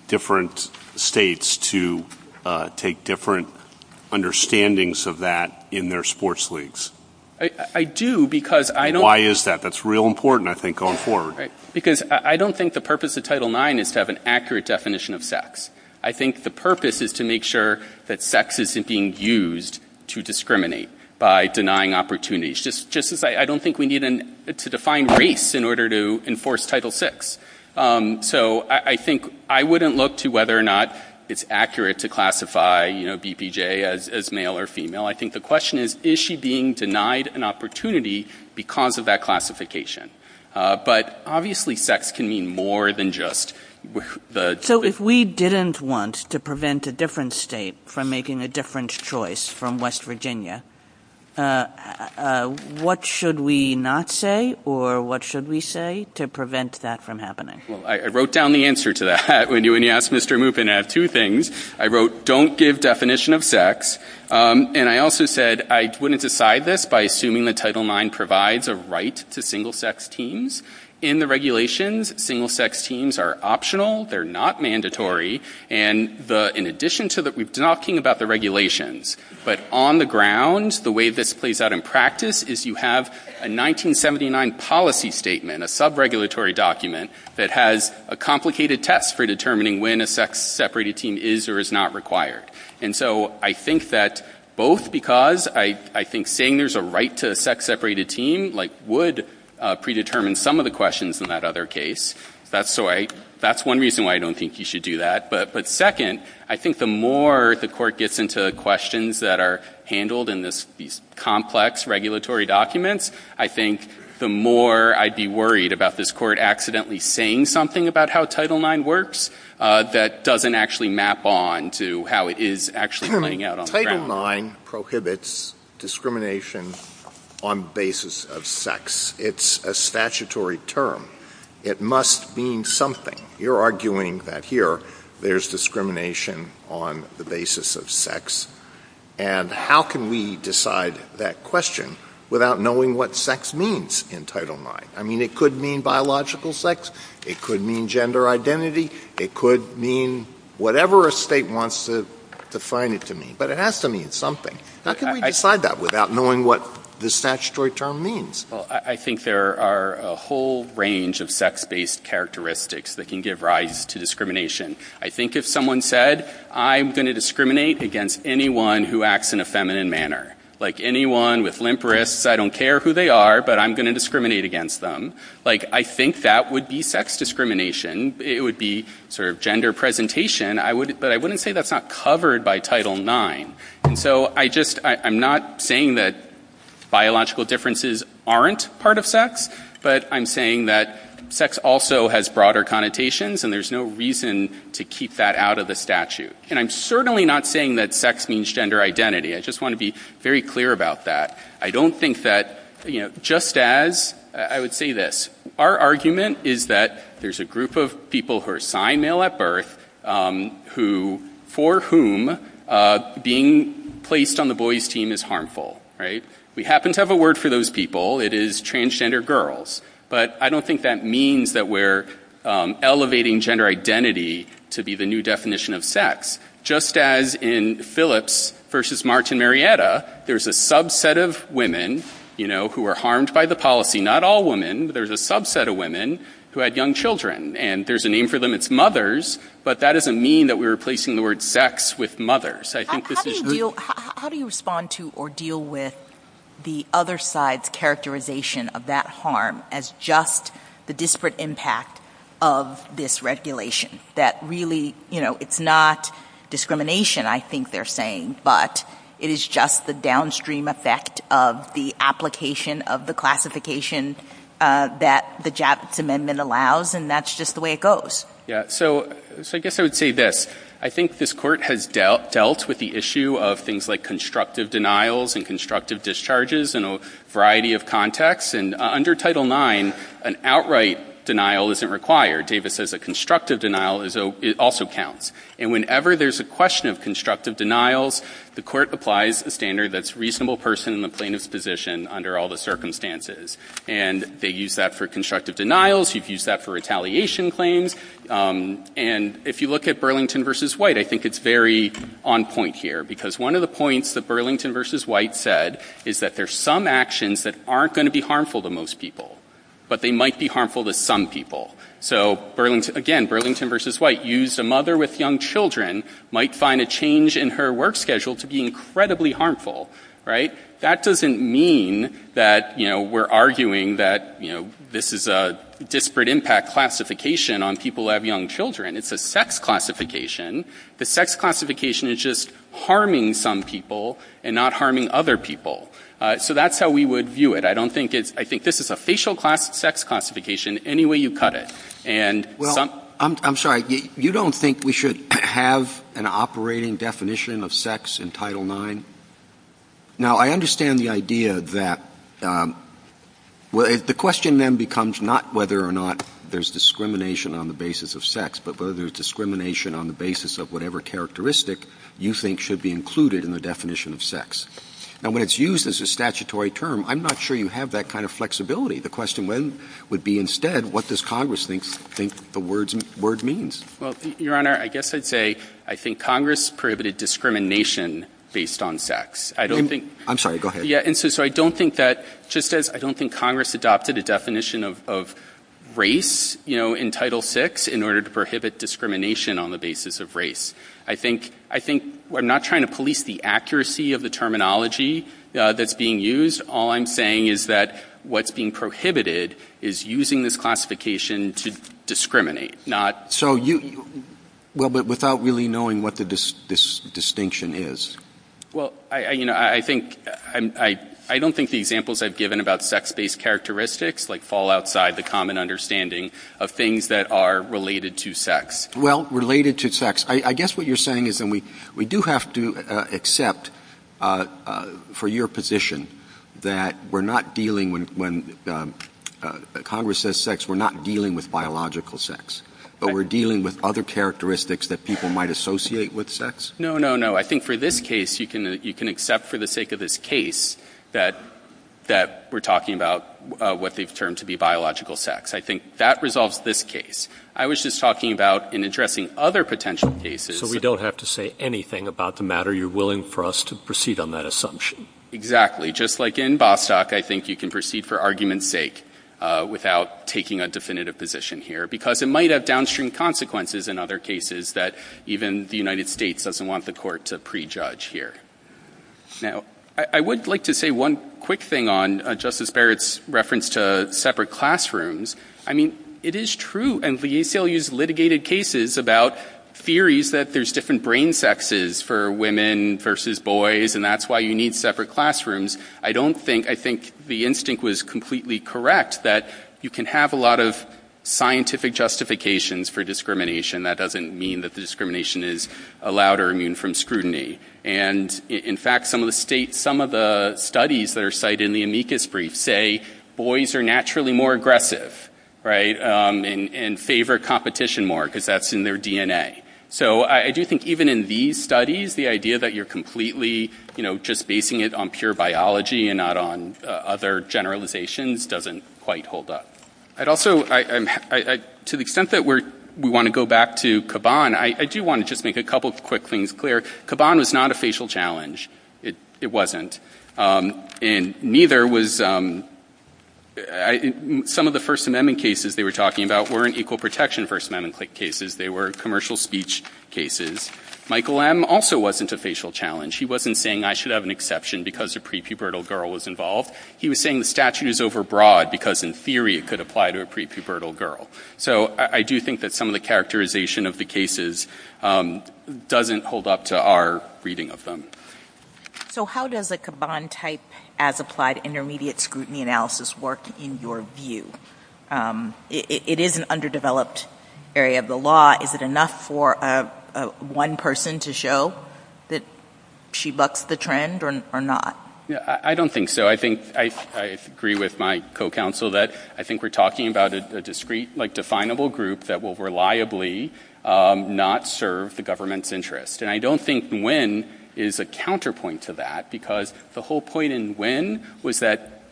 different states to take different understandings of that in their sports leagues? I do because I don't... Why is that? That's real important, I think, going forward. Because I don't think the purpose of Title IX is to have an accurate definition of sex. I think the purpose is to make sure that sex isn't being used to discriminate by denying opportunities. Just as I don't think we need to define race in order to enforce Title VI. So I think I wouldn't look to whether or not it's accurate to classify, you know, BPJ as male or female. I think the question is, is she being denied an opportunity because of that classification? But obviously sex can mean more than just... So if we didn't want to prevent a different state from making a different choice from West Virginia, what should we not say or what should we say to prevent that from happening? I wrote down the answer to that. When you asked Mr. Moopin, I had two things. I wrote, don't give definition of sex. And I also said I wouldn't decide this by assuming that Title IX provides a right to single-sex teams. In the regulations, single-sex teams are optional. They're not mandatory. And in addition to that, we're talking about the regulations. But on the ground, the way this plays out in practice is you have a 1979 policy statement, a sub-regulatory document that has a complicated test for determining when a sex-separated team is or is not required. And so I think that both because I think saying there's a right to a sex-separated team, like, would predetermine some of the questions in that other case. That's one reason why I don't think you should do that. But second, I think the more the court gets into questions that are handled in these complex regulatory documents, I think the more I'd be worried about this court accidentally saying something about how Title IX works that doesn't actually map on to how it is actually playing out on Title IX prohibits discrimination on the basis of sex. It's a statutory term. It must mean something. You're arguing that here there's discrimination on the basis of sex. And how can we decide that question without knowing what sex means in Title IX? I mean, it could mean biological sex. It could mean gender identity. It could mean whatever a state wants to define it to mean. But it has to mean something. How can we decide that without knowing what the statutory term means? Well, I think there are a whole range of sex-based characteristics that can give rise to discrimination. I think if someone said, I'm going to discriminate against anyone who acts in a feminine manner, like, anyone with limp wrists, I don't care who they are, but I'm going to discriminate against them, like, I think that would be sex discrimination. It would be sort of gender presentation. But I wouldn't say that's not covered by Title IX. And so I just, I'm not saying that biological differences aren't part of sex, but I'm saying that sex also has broader connotations, and there's no reason to keep that out of the statute. And I'm certainly not saying that sex means gender identity. I just want to be very clear about that. I don't think that, you know, just as, I would say this. Our argument is that there's a group of people who are assigned male at birth who, for whom being placed on the boy's team is harmful. Right? We happen to have a word for those people. It is transgender girls. But I don't think that means that we're elevating gender identity to be the new definition of sex. Just as in Phillips versus Martin Marietta, there's a subset of women, you know, who are harmed by the policy. Not all women. There's a subset of women who had young children. And there's a name for them. It's mothers. But that doesn't mean that we're replacing the word sex with mothers. How do you respond to or deal with the other side's characterization of that harm as just the disparate impact of this regulation? That really, you know, it's not discrimination, I think they're saying, but it is just the downstream effect of the application of the classification that the JAPSA amendment allows. And that's just the way it goes. Yeah. So I guess I would say this. I think this court has dealt with the issue of things like constructive denials and constructive discharges in a variety of contexts. And under Title IX, an outright denial isn't required. David says a constructive denial also counts. And whenever there's a question of constructive denials, the court applies the standard that's reasonable person in the plaintiff's position under all the circumstances. And they use that for constructive denials. You've used that for retaliation claims. And if you look at Burlington v. White, I think it's very on point here. Because one of the points that Burlington v. White said is that there's some actions that aren't going to be harmful to most people, but they might be harmful to some people. So, again, Burlington v. White used a mother with young children might find a change in her work schedule to be incredibly harmful. Right? So that doesn't mean that, you know, we're arguing that, you know, this is a disparate impact classification on people who have young children. It's a sex classification. The sex classification is just harming some people and not harming other people. So that's how we would view it. I think this is a facial sex classification any way you cut it. Well, I'm sorry. You don't think we should have an operating definition of sex in Title IX? Now, I understand the idea that the question then becomes not whether or not there's discrimination on the basis of sex, but whether there's discrimination on the basis of whatever characteristic you think should be included in the definition of sex. Now, when it's used as a statutory term, I'm not sure you have that kind of flexibility. The question would be, instead, what does Congress think the word means? Well, Your Honor, I guess I'd say I think Congress prohibited discrimination based on sex. I'm sorry. Go ahead. And so I don't think that just as I don't think Congress adopted a definition of race, you know, in Title VI in order to prohibit discrimination on the basis of race. I think we're not trying to police the accuracy of the terminology that's being used. All I'm saying is that what's being prohibited is using this classification to discriminate. Well, but without really knowing what the distinction is. Well, you know, I don't think the examples I've given about sex-based characteristics fall outside the common understanding of things that are related to sex. Well, related to sex. I guess what you're saying is we do have to accept for your position that we're not dealing when Congress says sex, we're not dealing with biological sex. But we're dealing with other characteristics that people might associate with sex? No, no, no. I think for this case, you can accept for the sake of this case that we're talking about what they've termed to be biological sex. I think that resolves this case. I was just talking about in addressing other potential cases. So we don't have to say anything about the matter. You're willing for us to proceed on that assumption. Exactly. Just like in Bostock, I think you can proceed for argument's sake without taking a definitive position here. Because it might have downstream consequences in other cases that even the United States doesn't want the court to prejudge here. Now, I would like to say one quick thing on Justice Barrett's reference to separate classrooms. I mean, it is true. And the ACLU's litigated cases about theories that there's different brain sexes for women versus boys. And that's why you need separate classrooms. I don't think, I think the instinct was completely correct that you can have a lot of scientific justifications for discrimination. That doesn't mean that the discrimination is allowed or immune from scrutiny. And, in fact, some of the studies that are cited in the amicus brief say boys are naturally more aggressive. Right? And favor competition more. Because that's in their DNA. So I do think even in these studies, the idea that you're completely, you know, just basing it on pure biology and not on other generalizations doesn't quite hold up. I'd also, to the extent that we want to go back to Caban, I do want to just make a couple of quick things clear. Caban was not a facial challenge. It wasn't. And neither was, some of the First Amendment cases they were talking about weren't equal protection First Amendment cases. They were commercial speech cases. Michael M. also wasn't a facial challenge. He wasn't saying I should have an exception because a prepubertal girl was involved. He was saying the statute is over broad because in theory it could apply to a prepubertal girl. So I do think that some of the characterization of the cases doesn't hold up to our reading of them. So how does a Caban type as applied intermediate scrutiny analysis work in your view? It is an underdeveloped area of the law. Is it enough for one person to show that she bucks the trend or not? I don't think so. I think I agree with my co-counsel that I think we're talking about a discrete, like definable group that will reliably not serve the government's interest. And I don't think Nguyen is a counterpoint to that because the whole point of this case is that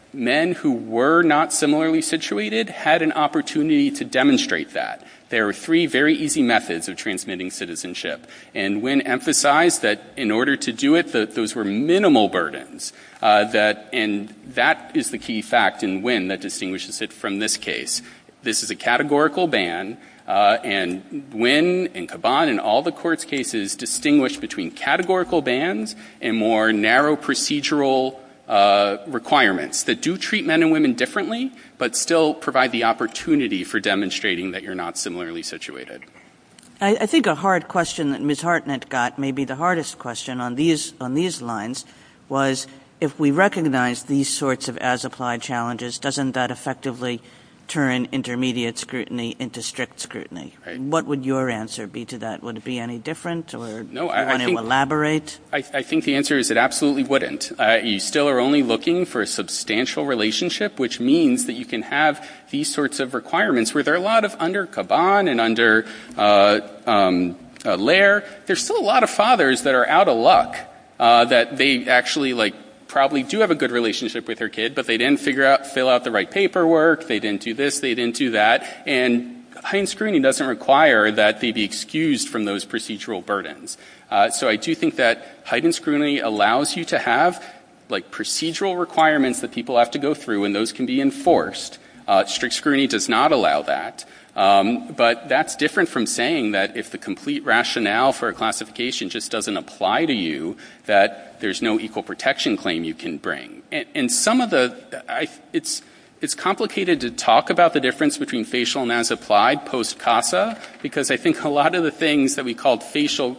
there are three very easy methods of transmitting citizenship. And Nguyen emphasized that in order to do it, those were minimal burdens. And that is the key fact in Nguyen that distinguishes it from this case. This is a categorical ban. And Nguyen and Caban and all the court's cases distinguish between categorical bans and more narrow procedural requirements that do treat men and women differently but still provide the opportunity for demonstrating that you're not similarly situated. I think a hard question that Ms. Hartnett got may be the hardest question on these lines was if we recognize these sorts of as applied challenges, doesn't that effectively turn intermediate scrutiny into strict scrutiny? What would your answer be to that? Would it be any different or do you want to elaborate? I think the answer is it absolutely wouldn't. You still are only looking for a substantial relationship, which means that you can have these sorts of requirements. Where there are a lot of under Caban and under Lair, there's still a lot of fathers that are out of luck that they actually like probably do have a good relationship with their kid, but they didn't figure out, fill out the right paperwork. They didn't do this. They didn't do that. And high-end screening doesn't require that they be excused from those procedural burdens. So I do think that heightened scrutiny allows you to have procedural requirements that people have to go through, and those can be enforced. Strict scrutiny does not allow that. But that's different from saying that if the complete rationale for a classification just doesn't apply to you, that there's no equal protection claim you can bring. And some of the – it's complicated to talk about the difference between facial and as applied post-CASA, because I think a lot of the things that we call facial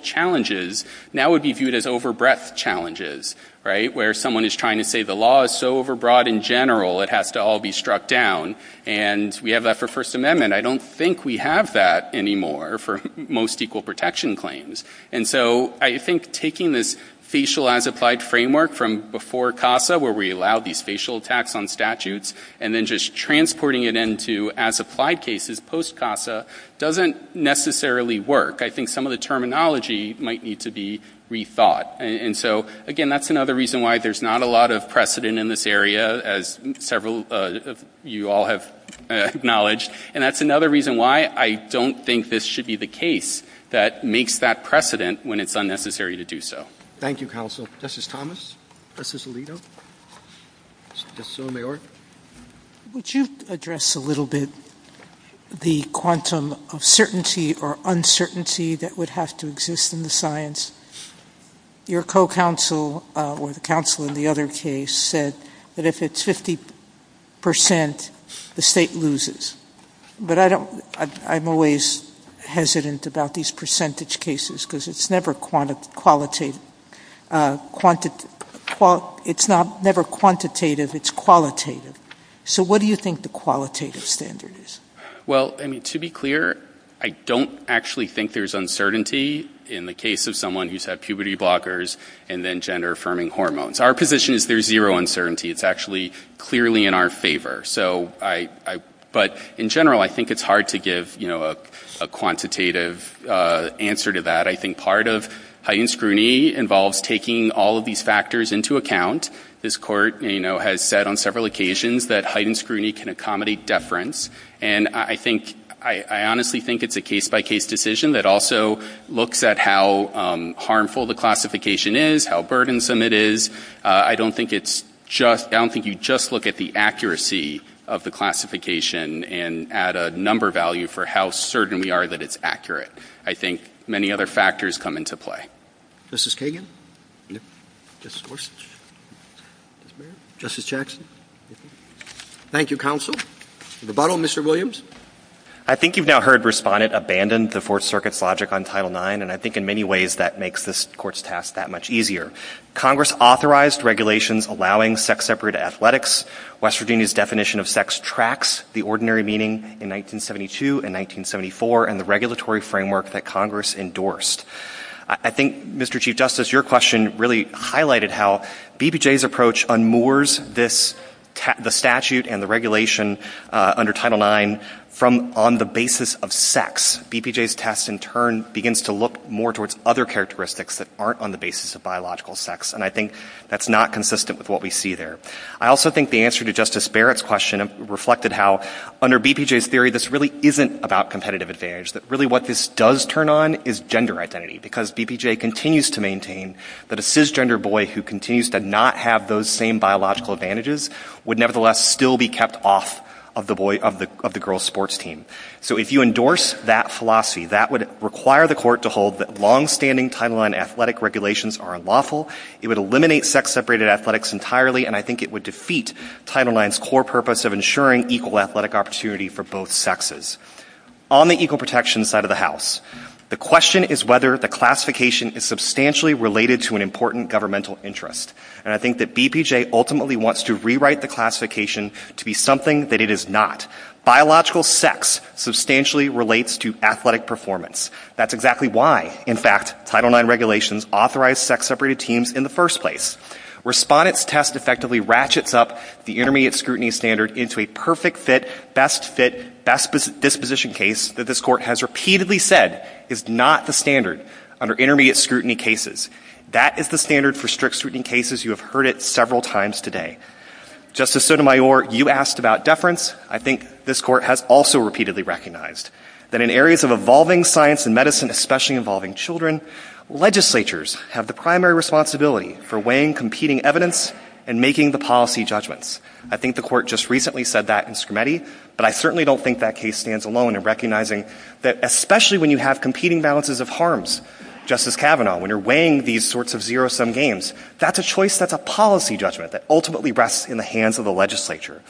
challenges now would be viewed as over breadth challenges, right? Where someone is trying to say the law is so over broad in general, it has to all be struck down. And we have that for First Amendment. I don't think we have that anymore for most equal protection claims. And so I think taking this facial as applied framework from before CASA, where we allowed these facial attacks on statutes, and then just transporting it into as applied cases post-CASA doesn't necessarily work. I think some of the terminology might need to be rethought. And so, again, that's another reason why there's not a lot of precedent in this area, as several of you all have acknowledged. And that's another reason why I don't think this should be the case that makes that precedent when it's unnecessary to do so. Thank you, counsel. Justice Thomas? Justice Alito? Justice Sotomayor? Would you address a little bit the quantum of certainty or uncertainty that would have to exist in the science? Your co-counsel, or the counsel in the other case, said that if it's 50 percent, the state loses. But I'm always hesitant about these percentage cases, because it's never quantitative, it's qualitative. So what do you think the qualitative standard is? Well, to be clear, I don't actually think there's uncertainty in the case of someone who's had puberty blockers and then gender-affirming hormones. Our position is there's zero uncertainty. It's actually clearly in our favor. But in general, I think it's hard to give a quantitative answer to that. I think part of heightened scrutiny involves taking all of these factors into account. This Court, you know, has said on several occasions that heightened scrutiny can accommodate deference. And I think – I honestly think it's a case-by-case decision that also looks at how harmful the classification is, how burdensome it is. I don't think it's just – I don't think you just look at the accuracy of the classification and add a number value for how certain we are that it's accurate. I think many other factors come into play. Justice Kagan? Yes. Justice Gorsuch? Yes, ma'am. Justice Jackson? Yes, ma'am. Thank you, counsel. To the bottom, Mr. Williams. I think you've now heard Respondent abandon the Fourth Circuit's logic on Title IX, and I think in many ways that makes this Court's task that much easier. Congress authorized regulations allowing sex-separate athletics. West Virginia's definition of sex tracks the ordinary meaning in 1972 and 1974 and the regulatory framework that Congress endorsed. I think, Mr. Chief Justice, your question really highlighted how BPJ's approach unmoors this – the statute and the regulation under Title IX from on the basis of sex. BPJ's test, in turn, begins to look more towards other characteristics that aren't on the basis of biological sex, and I think that's not consistent with what we see there. I also think the answer to Justice Barrett's question reflected how under BPJ's theory this really isn't about competitive advantage, that really what this does turn on is gender identity, because BPJ continues to maintain that a cisgender boy who continues to not have those same biological advantages would nevertheless still be kept off of the girl's sports team. So if you endorse that philosophy, that would require the Court to hold that longstanding Title IX athletic regulations are unlawful. It would eliminate sex-separated athletics entirely, and I think it would On the equal protection side of the house, the question is whether the classification is substantially related to an important governmental interest, and I think that BPJ ultimately wants to rewrite the classification to be something that it is not. Biological sex substantially relates to athletic performance. That's exactly why, in fact, Title IX regulations authorize sex-separated teams in the first place. Respondent's test effectively ratchets up the intermediate scrutiny standard into a perfect fit, best fit, best disposition case that this Court has repeatedly said is not the standard under intermediate scrutiny cases. That is the standard for strict scrutiny cases. You have heard it several times today. Justice Sotomayor, you asked about deference. I think this Court has also repeatedly recognized that in areas of evolving science and medicine, especially involving children, legislatures have the primary responsibility for weighing competing evidence and making the policy judgments. I think the Court just recently said that in Scrimetti, but I certainly don't think that case stands alone in recognizing that especially when you have competing balances of harms, Justice Kavanaugh, when you're weighing these sorts of zero-sum games, that's a choice that's a policy judgment that ultimately rests in the hands of the legislature.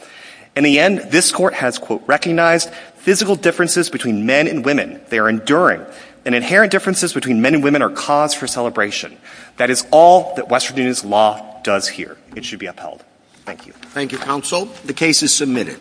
In the end, this Court has, quote, recognized physical differences between men and women. They are enduring. And inherent differences between men and women are cause for celebration. That is all that West Virginia's law does here. It should be upheld. Thank you. Thank you, counsel. The case is submitted.